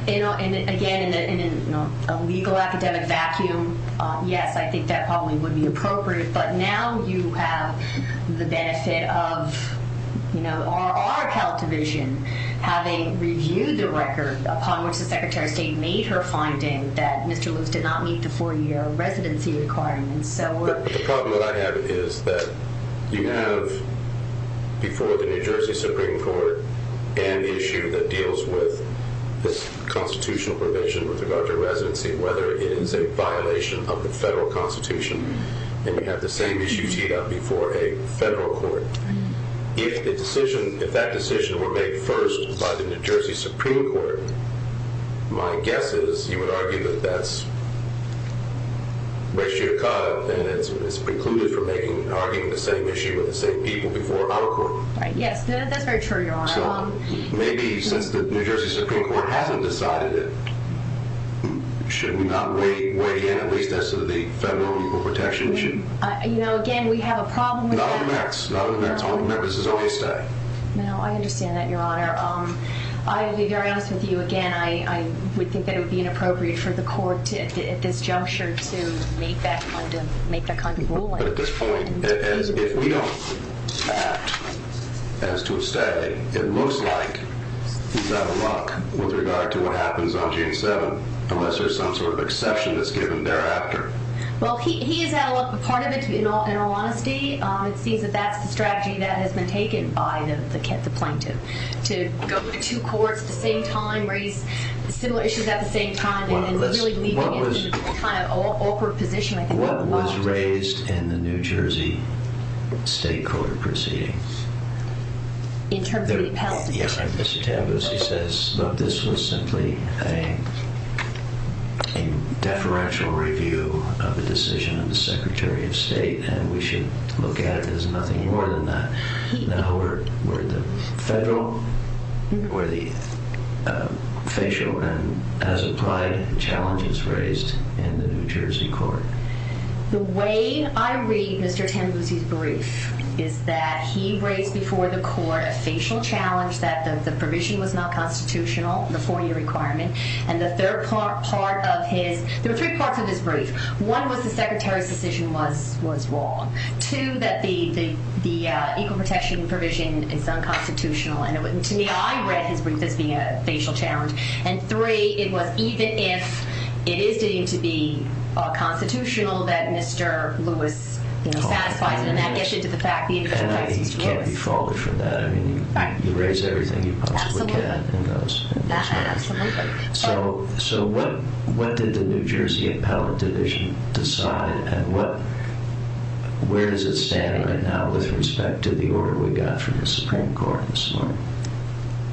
and again, in a legal academic vacuum, yes, I think that probably would be appropriate. But now you have the benefit of, you know, our health division having reviewed the records upon which the Secretary of State made her findings that Mr. Lewis did not meet the four-year residency requirements. So we're OK. Probably what I have is that you have before the New Jersey Supreme Court an issue that deals with this constitutional provision with regard to residency, whether it is a violation of the federal constitution and you have the same issue teed up before a federal court. If that decision were made first by the New Jersey Supreme Court, my guess is you would argue that that's wishy-washy and it's precluded from making an argument on the same issue with the same people before our court. I guess. Maybe since the New Jersey Supreme Court hasn't decided it, should we not weigh in at least as to the federal protection issue? You know, again, we have a problem with that. Not on the merits. Not on the merits. On the merits is OK to say. No, I understand that, Your Honor. I'll be very honest with you again. I would think that it would be inappropriate for the court at this juncture to make that kind of ruling. But at this point, we don't see that as to say it looks like he's out of luck with regard to what happens on June 7th, unless there's some sort of exception that's given thereafter. Well, he is out of luck. A part of it is he's not in a lot of state. It seems that that's a strategy that has been taken by the plaintiff to go to two courts at the same time, raise similar issues at the same time. What was raised in the New Jersey State Court proceeding? In terms of the penalty. Yes, but this was simply a deferential review of the decision of the Secretary of State, and we should look at it as nothing more than that. Now we're in the federal where the facial, as applied, challenge was raised in the New Jersey Court. The way I read Mr. Tampas's brief is that he raised before the court that the facial challenge, that the provision was not constitutional, the four-year requirement. And the third part of his – there were three parts of his brief. One was the Secretary's position was wrong. Two, that the equal protection provision is unconstitutional, and to me, I read his briefing as a facial challenge. And three, it was even if it is deemed to be constitutional, that Mr. Lewis satisfied with that, And I think you can't be faltered from that. I mean, you raise everything you possibly can. Absolutely. So what did the New Jersey Appellate Division decide, and where does it stand right now with respect to the order we got from the Supreme Court this morning?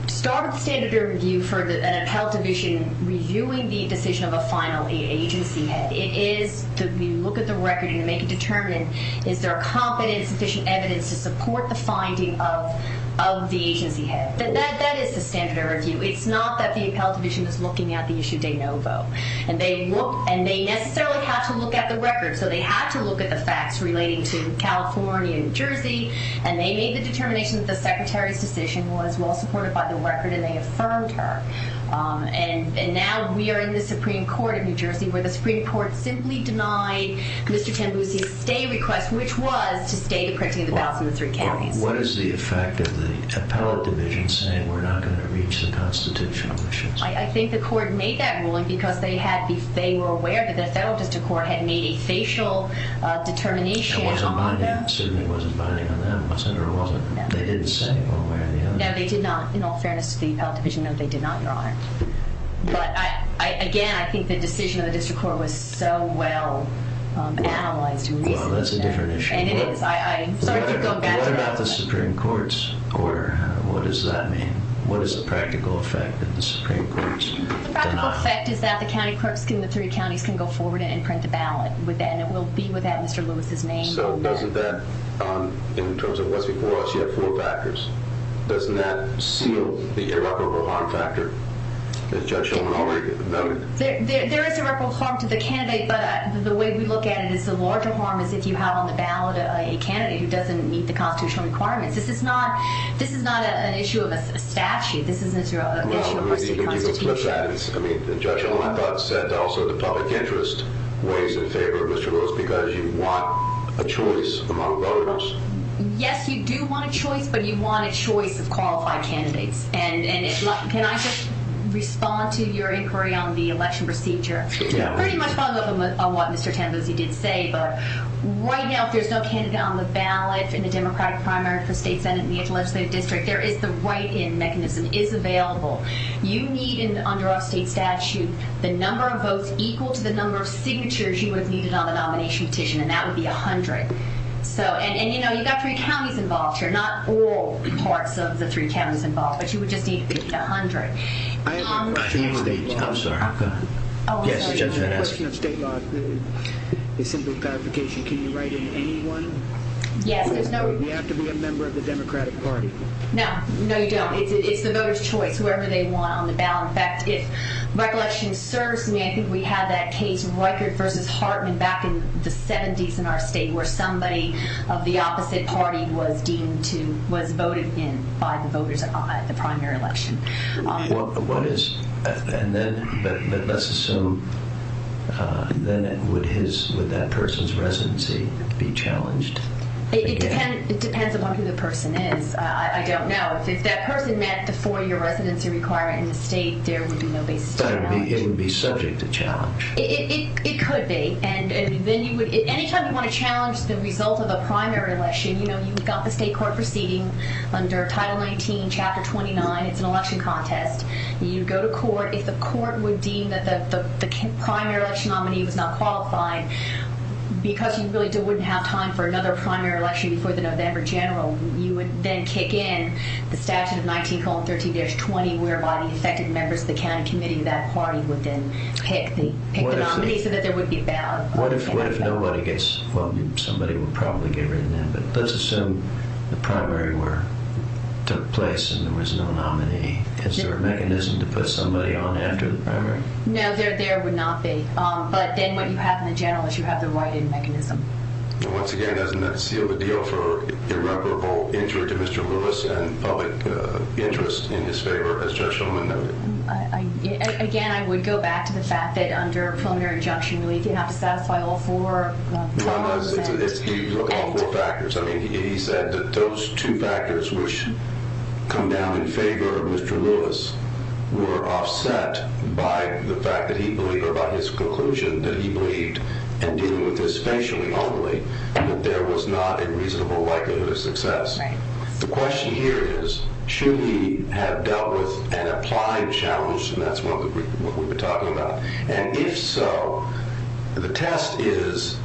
The standard of review for the Appellate Division reviewing the decision of a final agency It is that we look at the record and make a determination, is there a confident and sufficient evidence to support the finding of the agency head. That is the standard of review. It's not that the Appellate Division is looking at the issue de novo. And they necessarily have to look at the record, so they have to look at the facts relating to California and New Jersey, and they made the determination that the Secretary's position was well supported by the record, and they affirmed her. And now we are in the Supreme Court of New Jersey, where the Supreme Court simply denied Mr. Ted Lewis a stay request, which was to stay the precedent about Mr. Kennedy. What is the effect of the Appellate Division saying, we're not going to reach the constitutional decision? I think the court made that ruling, because they were aware that the Federal Judicial Court had made a facial determination. It wasn't binding. It certainly wasn't binding on that. No, they did not, in all fairness to the Appellate Division, they did not draw it. But, again, I think the decision of the Judicial Court was so well-analyzed. Well, that's a different issue. What about the Supreme Court's order? What does that mean? What is the practical effect that the Supreme Court is doing? The practical effect is that the three counties can go forward and print a ballot, and it will be without Mr. Lewis's name. So, wasn't that, in terms of what's before us, four factors? Doesn't that seal the error of a lot of factors? There is a rhetorical harm to the candidate, but the way we look at it is the larger harm is if you have on the ballot a candidate who doesn't meet the constitutional requirements. This is not an issue of a statute. This is an issue of a constitutional statute. I mean, Judge Olenbach said also the public interest weighs in favor of Mr. Lewis because you want a choice among voters. Yes, you do want a choice, but you want a choice of qualified candidates. And can I just respond to your inquiry on the election procedure? Yeah. Pretty much follow up on what Mr. Tanabuzi did say, but right now, if there's no candidate on the ballot in the Democratic primary, the state senate, and the legislative district, there is the write-in mechanism. It's available. You need, under a state statute, the number of votes equal to the number of signatures you would need on the nomination petition, and that would be 100. So, and, you know, you've got three counties involved here, not all parts of the three counties involved, but you would just need at least 100. I have a question. I'm sorry. Oh, go ahead. I just have a question on state law. Is there a simplification to write-in to anyone? Yes. Do we have to be a member of the Democratic party? No, no, you don't. It's the voter's choice, whoever they want on the ballot. In fact, if recollection serves me, I think we had that case in Weikert v. Hartman back in the 70s in our state where somebody of the opposite party was deemed to, was voted in by the voters at the primary election. Well, what is, and then, let's assume, then would that person's residency be challenged? It depends on who the person is. I don't know. If that person met the four-year residency requirement in the state, there would be no basic requirements. It would be better for him to be subject to challenge. It could be. And then you would, any time you want to challenge the result of a primary election, you know, you've got the state court proceeding under Title 19, Chapter 29. It's an election contest. You go to court. If the court would deem that the primary election nominee was not qualified, because you really wouldn't have time for another primary election before the November general, you would then kick in the staff of 19, 13, there's 20 whereby second members of the county committee of that party would then pick the nominee so that there would be a balance. What if nobody gets, well, somebody would probably get rid of them. But let's assume the primary took place and there was no nominee. Is there a mechanism to put somebody on after the primary? No, there would not be. But then what you have in the general is you have the right mechanism. Once again, doesn't that seal the deal for irreparable injury to Mr. Lewis and public interest in his favor as Judge Shulman noted? Again, I would go back to the fact that under a primary injunction, we didn't have to satisfy all four. No, I'm not asking for that. You can look at all four factors. I mean, he said that those two factors which come down in favor of Mr. Lewis were offset by the fact that he believed or by his conclusion that he believed in dealing with this patiently, ultimately, and that there was not a reasonable likelihood of a success. The question here is, should we have dealt with an applied challenge? And that's what we've been talking about. And if so, the test is,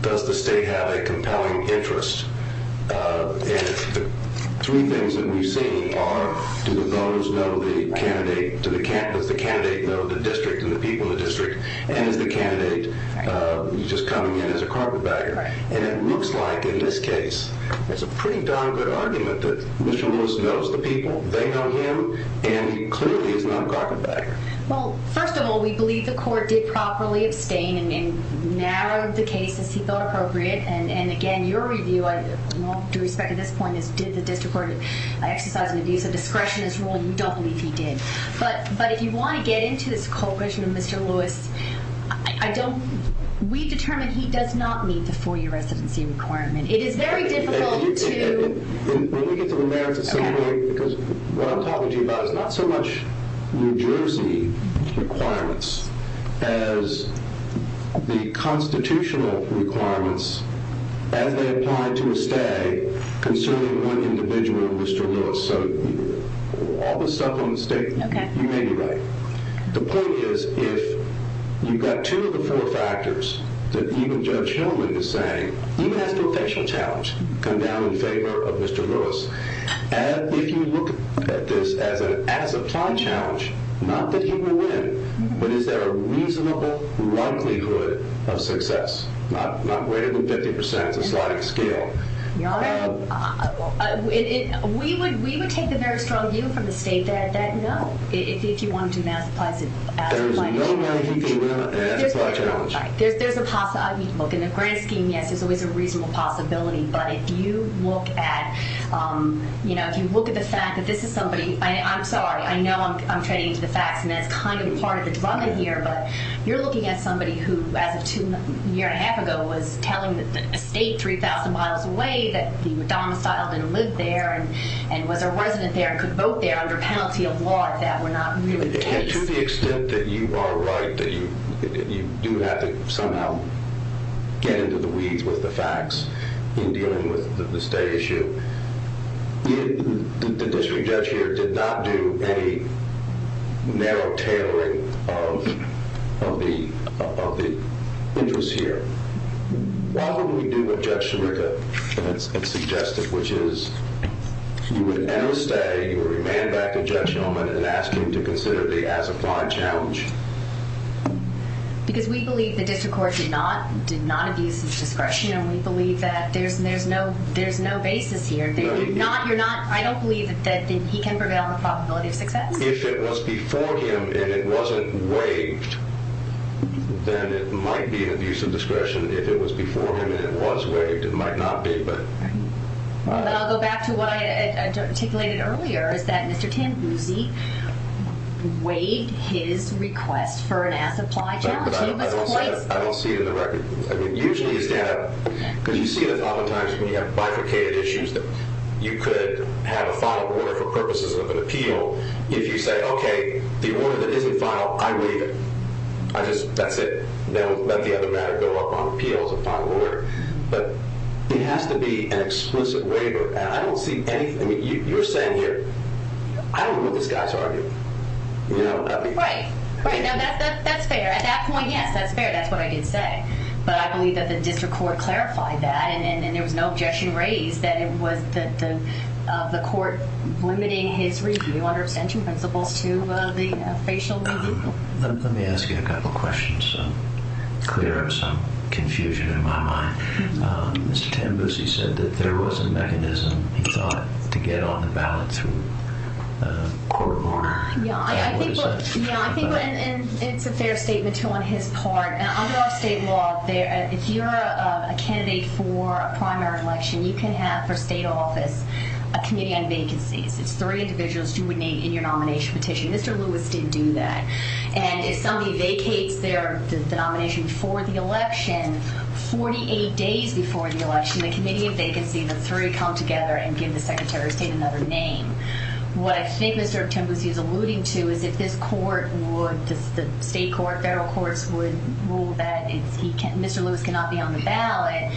does the state have a compelling interest? Three things that we see are, do the voters know the candidate? Does the candidate know the district and the people of the district? And is the candidate just coming in as a carpenter bagger? And it looks like, in this case, there's a pretty down-to-earth argument that Mr. Lewis knows the people, they know him, and he clearly is not a carpenter bagger. Well, first of all, we believe the court did properly explain and narrowed the case as he thought appropriate. And, again, your review, I want to respect at this point, is did the district court exercise the discretion of this rule? We don't believe he did. But if you want to get into this culprit, Mr. Lewis, we've determined he does not meet the four-year residency requirement. It is very difficult to— When we get to the merits of the ruling, because what I'm talking to you about is not so much New Jersey requirements as the constitutional requirements as they apply to a stay concerning one individual, Mr. Lewis. So all the stuff on the statement, you may be right. The point is, if you've got two of the four factors, that even Judge Hillman is saying, even if the official challenge comes down in favor of Mr. Lewis, if you look at this as an applied challenge, not that you will win, but is there a reasonable likelihood of success, not greater than 50% of the sliding scale? We would take the merits from you for the state that, no, if you wanted to maximize it. There is no way we can do that. There's a possibility. In the grand scheme, yes, there's always a reasonable possibility. But if you look at the fact that this is somebody— I'm sorry, I know I'm trading the facts, and that's kind of part of the drug idea, but you're looking at somebody who, as of a year and a half ago, was telling the state 3,000 miles away that he was domiciled and lived there, and whether or not he could vote there under penalty of war, if that were not really the case. To the extent that you are right, that you do have to somehow get into the weed with the facts in dealing with the state issue, the district judge here did not do any narrow tailoring of the interest here. Why would we do what Judge DeRiver suggested, which is you would end the state, or you would hand back the judgment, and ask him to consider the as-applied challenge? Because we believe the district court did not abuse his discretion, and we believe that there's no basis here. You're not—I don't believe that he can prevail in the possibility of success. If it was before him, and it wasn't waived, then it might be an abuse of discretion. If it was before him, and it was waived, it might not be. I'll go back to what I articulated earlier, that Mr. Tanzuzzi waived his request for an as-applied challenge. I don't see it in the record. Usually, because you see this all the time, when you have bifurcated issues, you could have a file order for purposes of an appeal. If you say, okay, the order that isn't filed, I read it. I just—that's it. Then we'll let the other matter go up on appeals and file an order. But it has to be an explicit waiver, and I don't see anything—I mean, you're saying here, I don't know what this guy's arguing. Right. That's fair. At that point, yes, that's fair. That's what I did say. But I believe that the district court clarified that, and there was no objection raised, that it was the court limiting his review, under central principle, to the facial removal. Let me ask you a couple questions, so there is some confusion in my mind. Mr. Tanzuzzi said that there was a mechanism, he thought, to get on the ballot through a court order. Yeah, I think it's a fair statement on his part. Under our state law, if you're a candidate for a primary election, you can have, per state office, a committee on vacancies. It's three individuals you would name in your nomination petition. Mr. Lewis didn't do that. And if somebody vacates their nomination for the election, 48 days before the election, the committee on vacancies, the three come together and give the secretary of state another name. What I think Mr. Tanzuzzi is alluding to is that this court would—the state court, federal court, would rule that Mr. Lewis cannot be on the ballot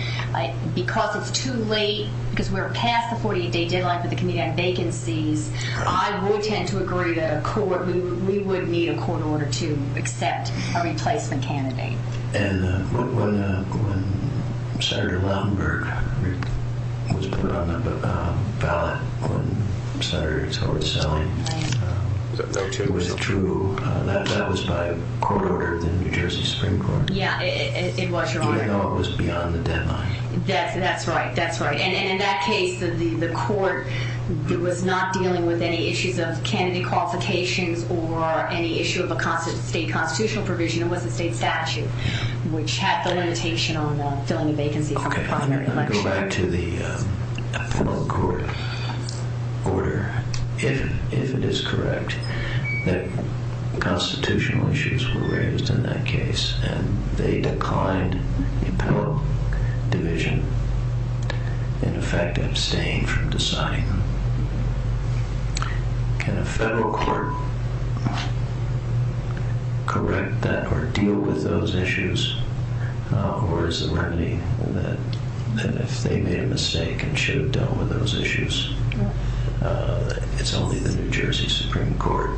because it's too late, because we're past the 48-day deadline for the committee on vacancies. I would tend to agree to a court. We would need a court order to accept or replace the candidate. And when Senator Lautenberg was put on the ballot on Saturday, so it was a true, not satisfied court order in the New Jersey Supreme Court. Yeah, it was your order. I know it was beyond the deadline. That's right, that's right. And in that case, the court was not dealing with any issues of candidate qualification or any issue of a state constitutional provision. It was a state statute, which had the limitation on filling a vacancy for the primary election. Okay, let me go back to the Appellate Court order, if it is correct, that constitutional issues were raised in that case, and they declined in federal division in the fact of abstaining from design. Can a federal court correct that or deal with those issues, or is there any that if they made a mistake and should have dealt with those issues, that it's only the New Jersey Supreme Court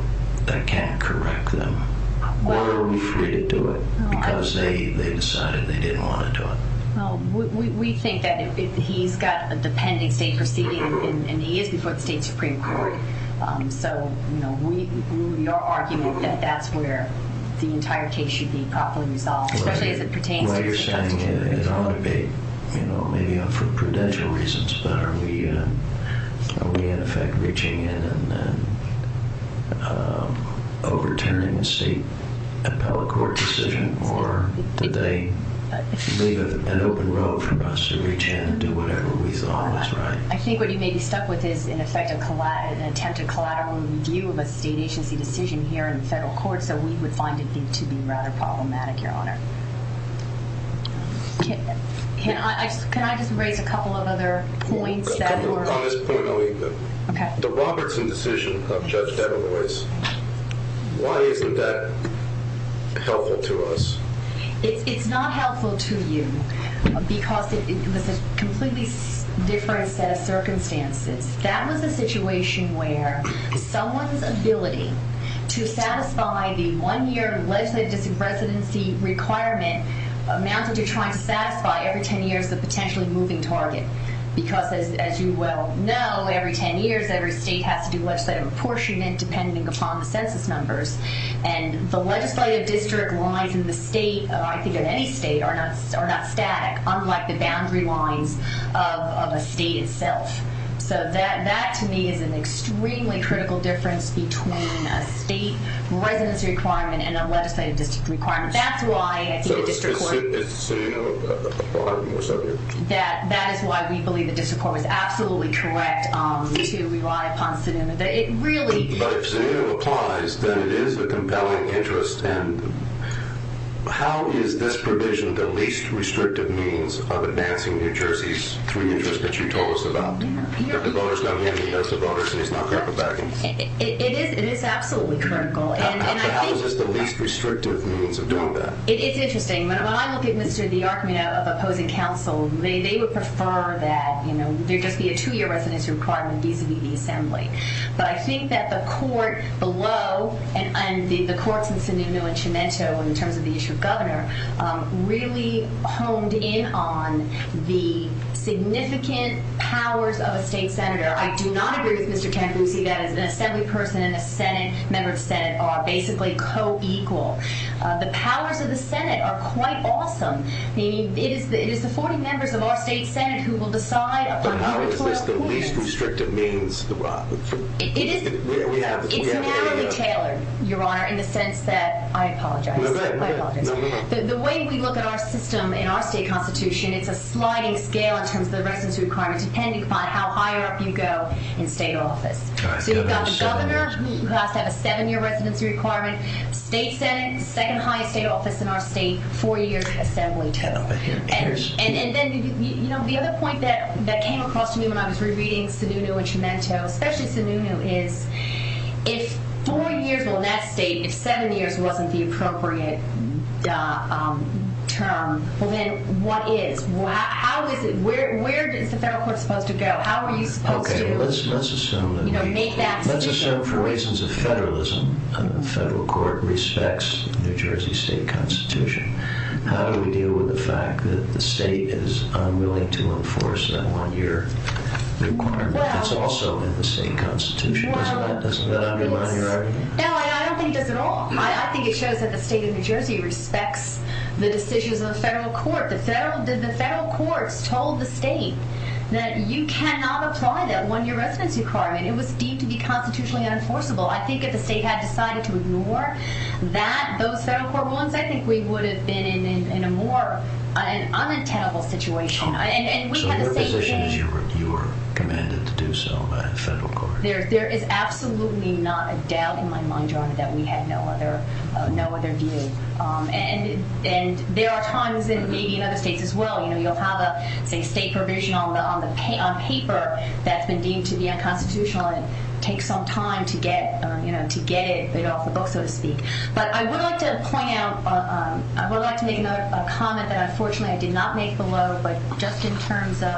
that can correct them? Or are we free to do it because they decided they didn't want to do it? We think that if he's got a dependent state proceeding, and he is before the state Supreme Court, so we are arguing that that's where the entire case should be properly resolved, especially as it pertains to your side. Well, you're saying that it ought to be, you know, an Appellate Court decision, or would they leave it open for us to retain it and do whatever we thought was right? I think what you may be stuck with is, in effect, an attempted collateral review of a state agency decision here in the federal court, so we would find it to be rather problematic, Your Honor. Can I just break a couple of other points? A couple of other points, I'll leave them. Okay. The Robertson decision of Judge Davenport, why isn't that helpful to us? It's not helpful to you because it's a completely different set of circumstances. That was a situation where someone's ability to satisfy the one-year legislative residency requirement amounts to trying to satisfy every 10 years a potentially moving target because, as you well know, every 10 years every state has to do legislative apportionment depending upon the census numbers, and the legislative district lines in the state, I think in any state, are not static, unlike the boundary lines of a state itself. So that, to me, is an extremely critical difference between a state residency requirement and a legislative district requirement. That's why I think the district court is absolutely correct to rely upon the scenario. But if the scenario applies, then it is a compelling interest, and how is this provision the least restrictive means of advancing New Jersey's community interest that you told us about? That the voters don't have any interest, the voters say it's not groundbreaking. It is absolutely critical. How is this the least restrictive means of doing that? It's interesting. When I look at Mr. DiArte of opposing counsel, they would prefer that, you know, there just be a two-year residency requirement vis-à-vis the assembly. But I think that the court below, and the courts of Sanino and Scimento in terms of the issue of governor, really honed in on the significant powers of a state senator. I do not agree with Mr. Kemp. We see that as an assembly person and a member of the Senate are basically co-equal. The powers of the Senate are quite awesome. It is the 40 members of our state Senate who will decide on who will appoint. But how is this the least restrictive means throughout? It's not detailed, Your Honor, in the sense that the way we look at our system and our state constitution, it's a sliding scale in terms of the residency requirement, depending upon how high up you go in state office. Governor has to have a seven-year residency requirement. State Senate, second-highest state office in our state, 40 years of assembly total. And then, you know, the other point that came across to me when I was re-reading Sanino and Scimento, especially Sanino, is if 40 years on that stage, seven years wasn't the appropriate term, then what is? Where is the federal court supposed to go? How are you supposed to make that decision? Let's assume for reasons of federalism, the federal court respects New Jersey state constitution. How do we deal with the fact that the state is unwilling to enforce that on your requirement? It's also in the state constitution. Isn't that a good line of argument? No, I don't think that at all. I think it shows that the state of New Jersey respects the decisions of the federal court. The federal court told the state that you cannot apply that one-year residency requirement. It would seem to be constitutionally unenforceable. I think if the state had decided to ignore that, those federal court rulings, I think we would have been in a more unaccountable situation. And we had a state case. So your position is you're commanding to do so by the federal court? There is absolutely not a doubt in my mind, John, that we had no other deal. And there are hundreds in maybe other states as well. You'll have a state provision on paper that's been deemed to be unconstitutional and it takes some time to get it off the books, so to speak. But I would like to make a comment that, unfortunately, I did not make below, but just in terms of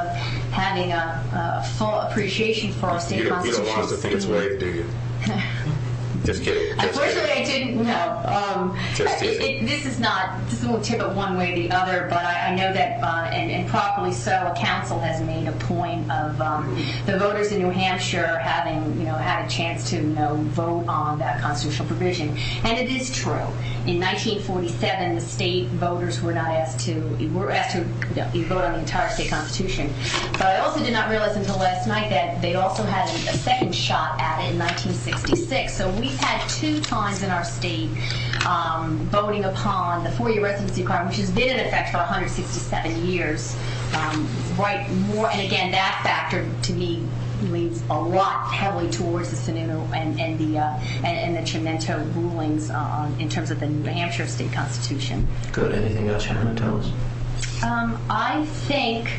having a full appreciation for our state constitution. You don't want us to think it's right, do you? Just kidding. Unfortunately, I didn't know. This is not to tip it one way or the other, but I know that improperly so a council has made a point of the voters in New Hampshire having had a chance to vote on that constitutional provision. And it is true. In 1947, the state voters were not asked to vote on the entire state constitution. But I also did not realize until last night that they also had a second shot at it in 1966. So we've had two times in our state voting upon the four-year residency card, which has been in effect for 167 years. And, again, that factor, to me, leads a lot, heavily, towards the Senate and the Trineto rulings in terms of the New Hampshire state constitution. Good. Anything else you have to tell us? I think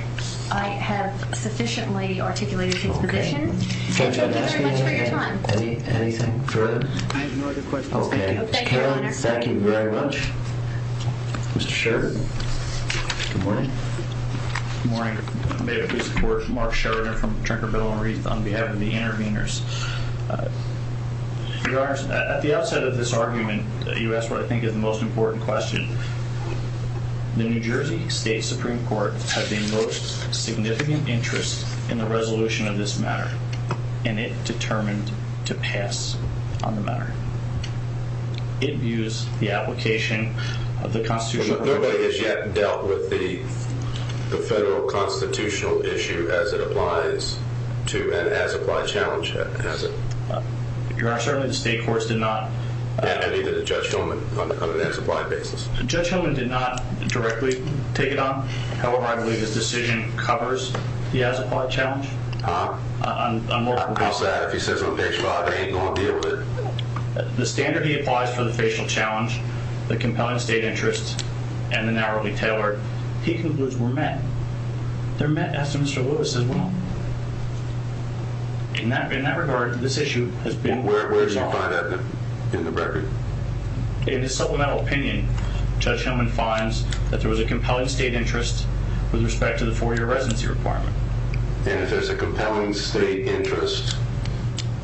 I have sufficiently articulated his position. Okay. Anything further? I have no other questions. Okay. Thank you very much. Mr. Sheridan. Good morning. Good morning. May it please the court. Mark Sheridan from Trentonville and Reed on behalf of the interveners. Your Honor, at the outset of this argument, you asked what I think is the most important question. The New Jersey State Supreme Court has the most significant interest in the resolution of this matter, and it determined to pass on the matter. It views the application of the constitution. Nobody has yet dealt with the federal constitutional issue as it applies to and as it was challenged, has it? Your Honor, certainly the state courts did not. Judge Hillman did not directly take it on. However, I believe his decision covers the as-applied challenge. How? On more than one side. He says when they try, they ain't going to deal with it. The standard he applies for the facial challenge, the component state interests, and the narrowly tailored, he concludes were met. They're met as to Mr. Lewis's will. In that regard, this issue has been marked. In the record? In his supplemental opinion, Judge Hillman finds that there was a compelling state interest with respect to the four-year residency requirement. And if there's a compelling state interest,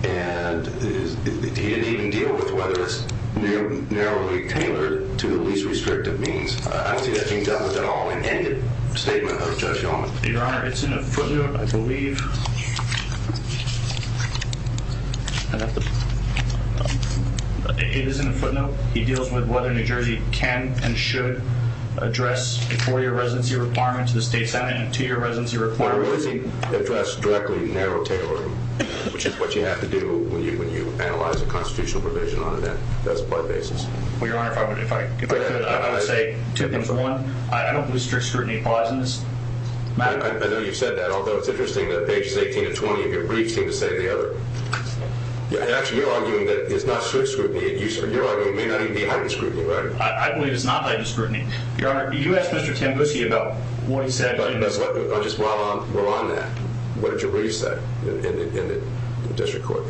and he didn't even deal with whether it's narrowly tailored to the least restrictive means. I don't think that was at all intended statement of Judge Hillman. Your Honor, it's in a footnote, I believe. It is in a footnote. He deals with whether New Jersey can and should address the four-year residency requirements. The state's adding a two-year residency requirement. Why would he address directly narrow-tailored, which is what you have to do when you analyze a constitutional provision on an as-applied basis? Well, Your Honor, if I could say two things. One, I don't believe strict scrutiny clauses matter. I know you've said that, although it's interesting that page 18 and 20 of your briefs didn't say the other. Actually, you're arguing that it's not strict scrutiny. You're arguing it may not even be heightened scrutiny, right? I believe it's not heightened scrutiny. Your Honor, you asked Mr. Tambuschi about what he said. Just while we're on that, what did your briefs say in the district court?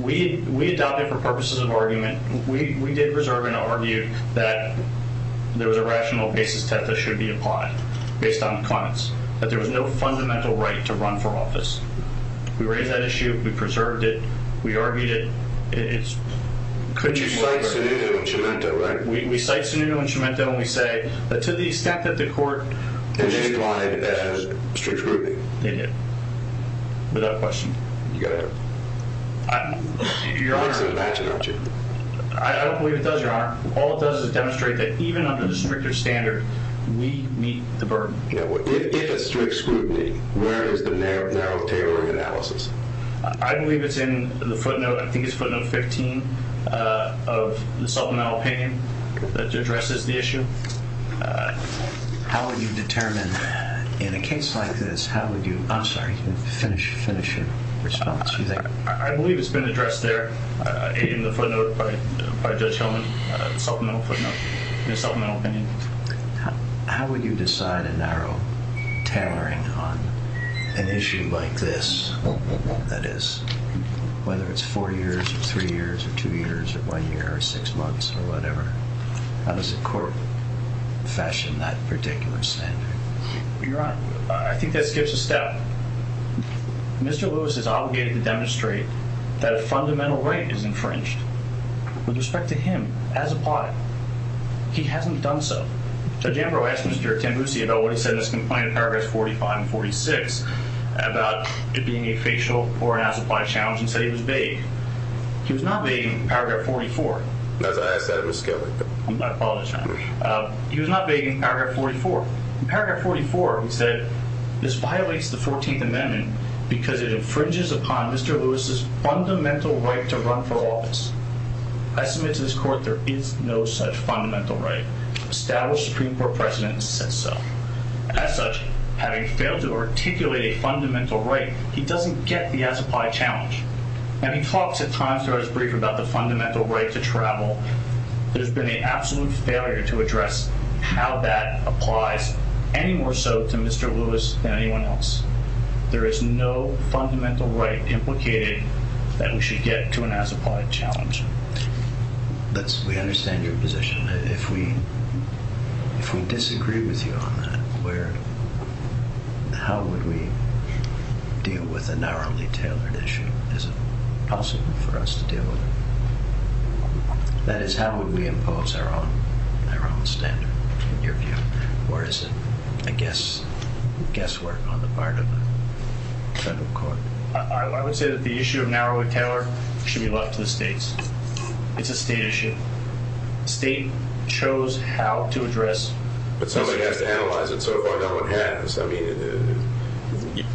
We adopted it for purposes of argument. We did reserve an argument that there was a rational basis that this should be applied, based on the comments, that there was no fundamental right to run for office. We raised that issue. We preserved it. We argued it. We cite scenario instrumenta, and we say that to the extent that the court— Without question. Your Honor— I don't believe it does, Your Honor. All it does is demonstrate that even under the district court standard, meat meets the burden. I believe it's in the footnote—I think it's footnote 15 of the supplemental opinion that addresses the issue. How would you determine, in a case like this, how would you—I'm sorry. You can finish your response. I believe it's been addressed there in the footnote by Judge Sullivan. Supplemental opinion. How would you decide, in our tailoring, on an issue like this? That is, whether it's four years or three years or two years or one year or six months or whatever, how does the court fashion that particular standard? Your Honor. I think that skips a step. Mr. Lewis is obligated to demonstrate that a fundamental right is infringed. With respect to him, as a plot, he hasn't done so. Judge Ambrose asked Mr. Tenbusy about what he said in his complaint in Paragraphs 45 and 46 about it being a facial or an ossified challenge, and said he was vague. He was not vague in Paragraph 44. I apologize. He was not vague in Paragraph 44. Paragraph 44 was that this violates the Fourteenth Amendment because it infringes upon Mr. Lewis's fundamental right to run for office. I submit to this Court there is no such fundamental right. Established Supreme Court precedent says so. As such, having failed to articulate a fundamental right, he doesn't get the ossified challenge. And he talks at times in his brief about the fundamental right to travel. There's been an absolute failure to address how that applies any more so to Mr. Lewis than anyone else. There is no fundamental right implicated that we should get to an ossified challenge. We understand your position. If we disagree with you on that, how would we deal with a narrowly tailored issue? Is it possible for us to do? That is, how would we impose our own standard? Or is it, I guess, guesswork on the part of the federal court? I would say that the issue of narrowly tailored should be left to the states. It's a state issue. State shows how to address. But somebody has to analyze it, so if I don't, what happens? I mean,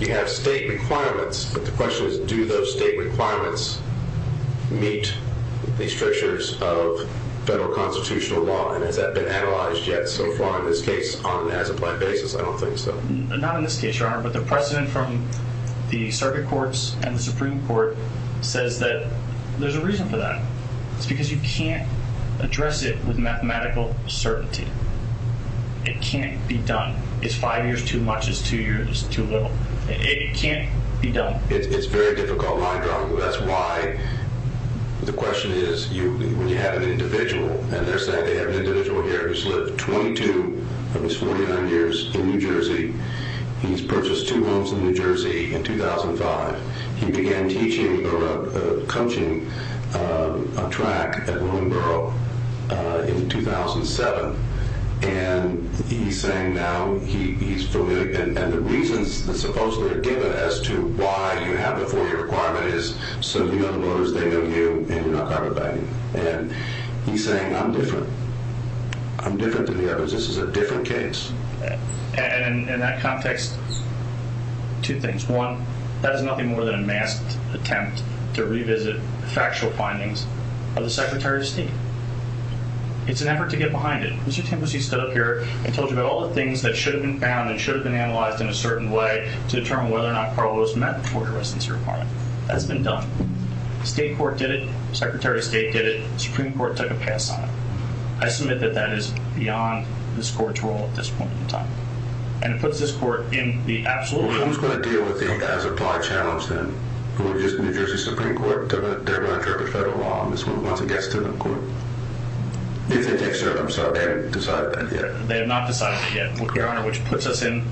you have state requirements, but the question is, do those state requirements meet the strictures of federal constitutional law? And has that been analyzed yet so far in this case on an as-applied basis? I don't think so. Not in this case, Your Honor, but the precedent from the circuit courts and the Supreme Court says that there's a reason for that. It's because you can't address it with mathematical certainty. It can't be done. It's five years too much, it's two years too little. It can't be done. It's very difficult, my job, but that's why. The question is, when you have an individual, as I said, I have an individual here who's lived 22 of his 49 years in New Jersey. He's purchased two homes in New Jersey in 2005. He began teaching or coaching on track at Willowboro in 2007, and he's saying now he's political. And the reasons that supposedly are given as to why you have the order requirement is so the other lawyers, they don't do, and they're not talking about you. And he's saying, I'm different. I'm different than the others. This is a different case. And in that context, two things. One, that's nothing more than a masked attempt to revisit factual findings of the Secretary of State. It's an effort to get behind it. Mr. Templesee stood up here and told you about all the things that should have been found and should have been analyzed in a certain way to determine whether or not Carlos met before the residence requirement. That's been done. State court did it. Secretary of State did it. Supreme Court took a case on it. And put this court in the absolute. Who's going to deal with it as applied challenge then? Who is the New Jersey Supreme Court? They're running for federal law. This is what we want to get to the court. They haven't decided that yet. They have not decided that yet. Your Honor, which puts us in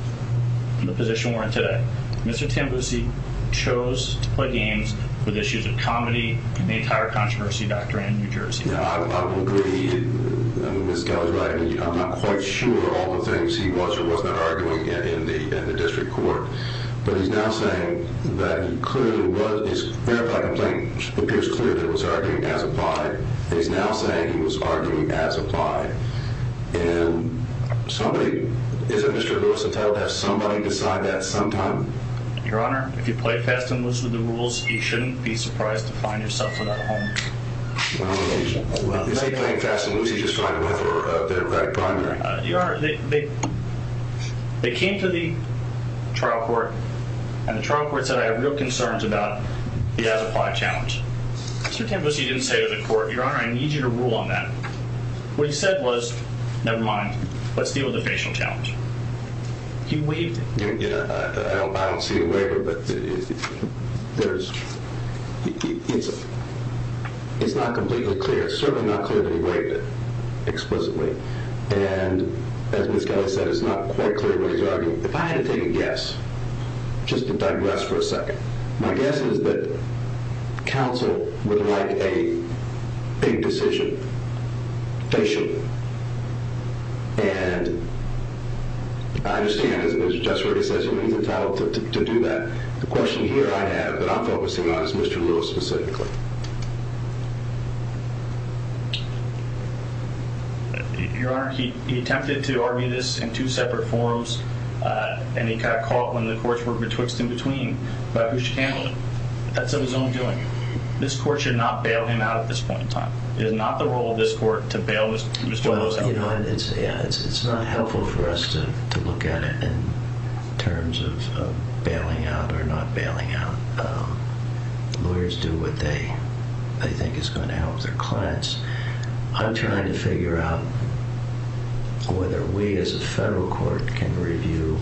the position we're in today. Mr. Templesee chose to play games with issues of comedy and made higher controversy back during New Jersey. I would agree. I'm not quite sure all the things he was or was not arguing yet in the district court. But he's now saying that clearly it was, as a matter of fact, I think it's clear that it was argued as applied. He's now saying he was arguing as applied. And somebody, is it Mr. Lewis to tell that somebody decided that sometime? Your Honor, if you play fast and listen to the rules, you shouldn't be surprised to find yourself in that home. If you play fast and listen to the rules, you're probably running for the primary. Your Honor, they came to the trial court and the trial court said, I have real concerns about the as applied challenge. Mr. Templesee didn't say to the court, Your Honor, I need you to rule on that. What he said was, never mind, let's deal with the official challenge. I don't see a waiver, but it's not completely clear. It's certainly not clear that he waived it explicitly. And as Ms. Kelly said, it's not quite clear what he's arguing. If I had to take a guess, just if I could rest for a second, my guess is that counsel would like a big decision. And I understand that it was just very explicitly entitled to do that. The question here I have that I'm focusing on is Mr. Lewis specifically. Your Honor, he attempted to argue this in two separate forums. And he kind of caught when the courts were betwixt and between. But Mr. Campbell, that's of his own doing. This court should not bail him out at this point in time. It is not the role of this court to bail Mr. Lewis out. It's not helpful for us to look at it in terms of bailing out or not bailing out. Lawyers do what they think is going to help their clients. I'm trying to figure out whether we as a federal court can review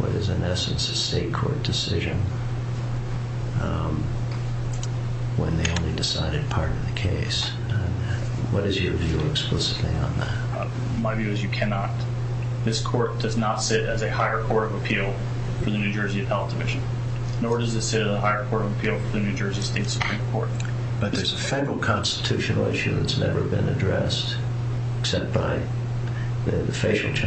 what is in essence a state court decision when they have decided to pardon the case. What is your view on that? My view is you cannot. This court does not sit as a higher court of appeal for the New Jersey Health Commission. Nor does it sit as a higher court of appeal for the New Jersey State Supreme Court. But there's a federal constitutional issue that's never been addressed. Except by the facing judge.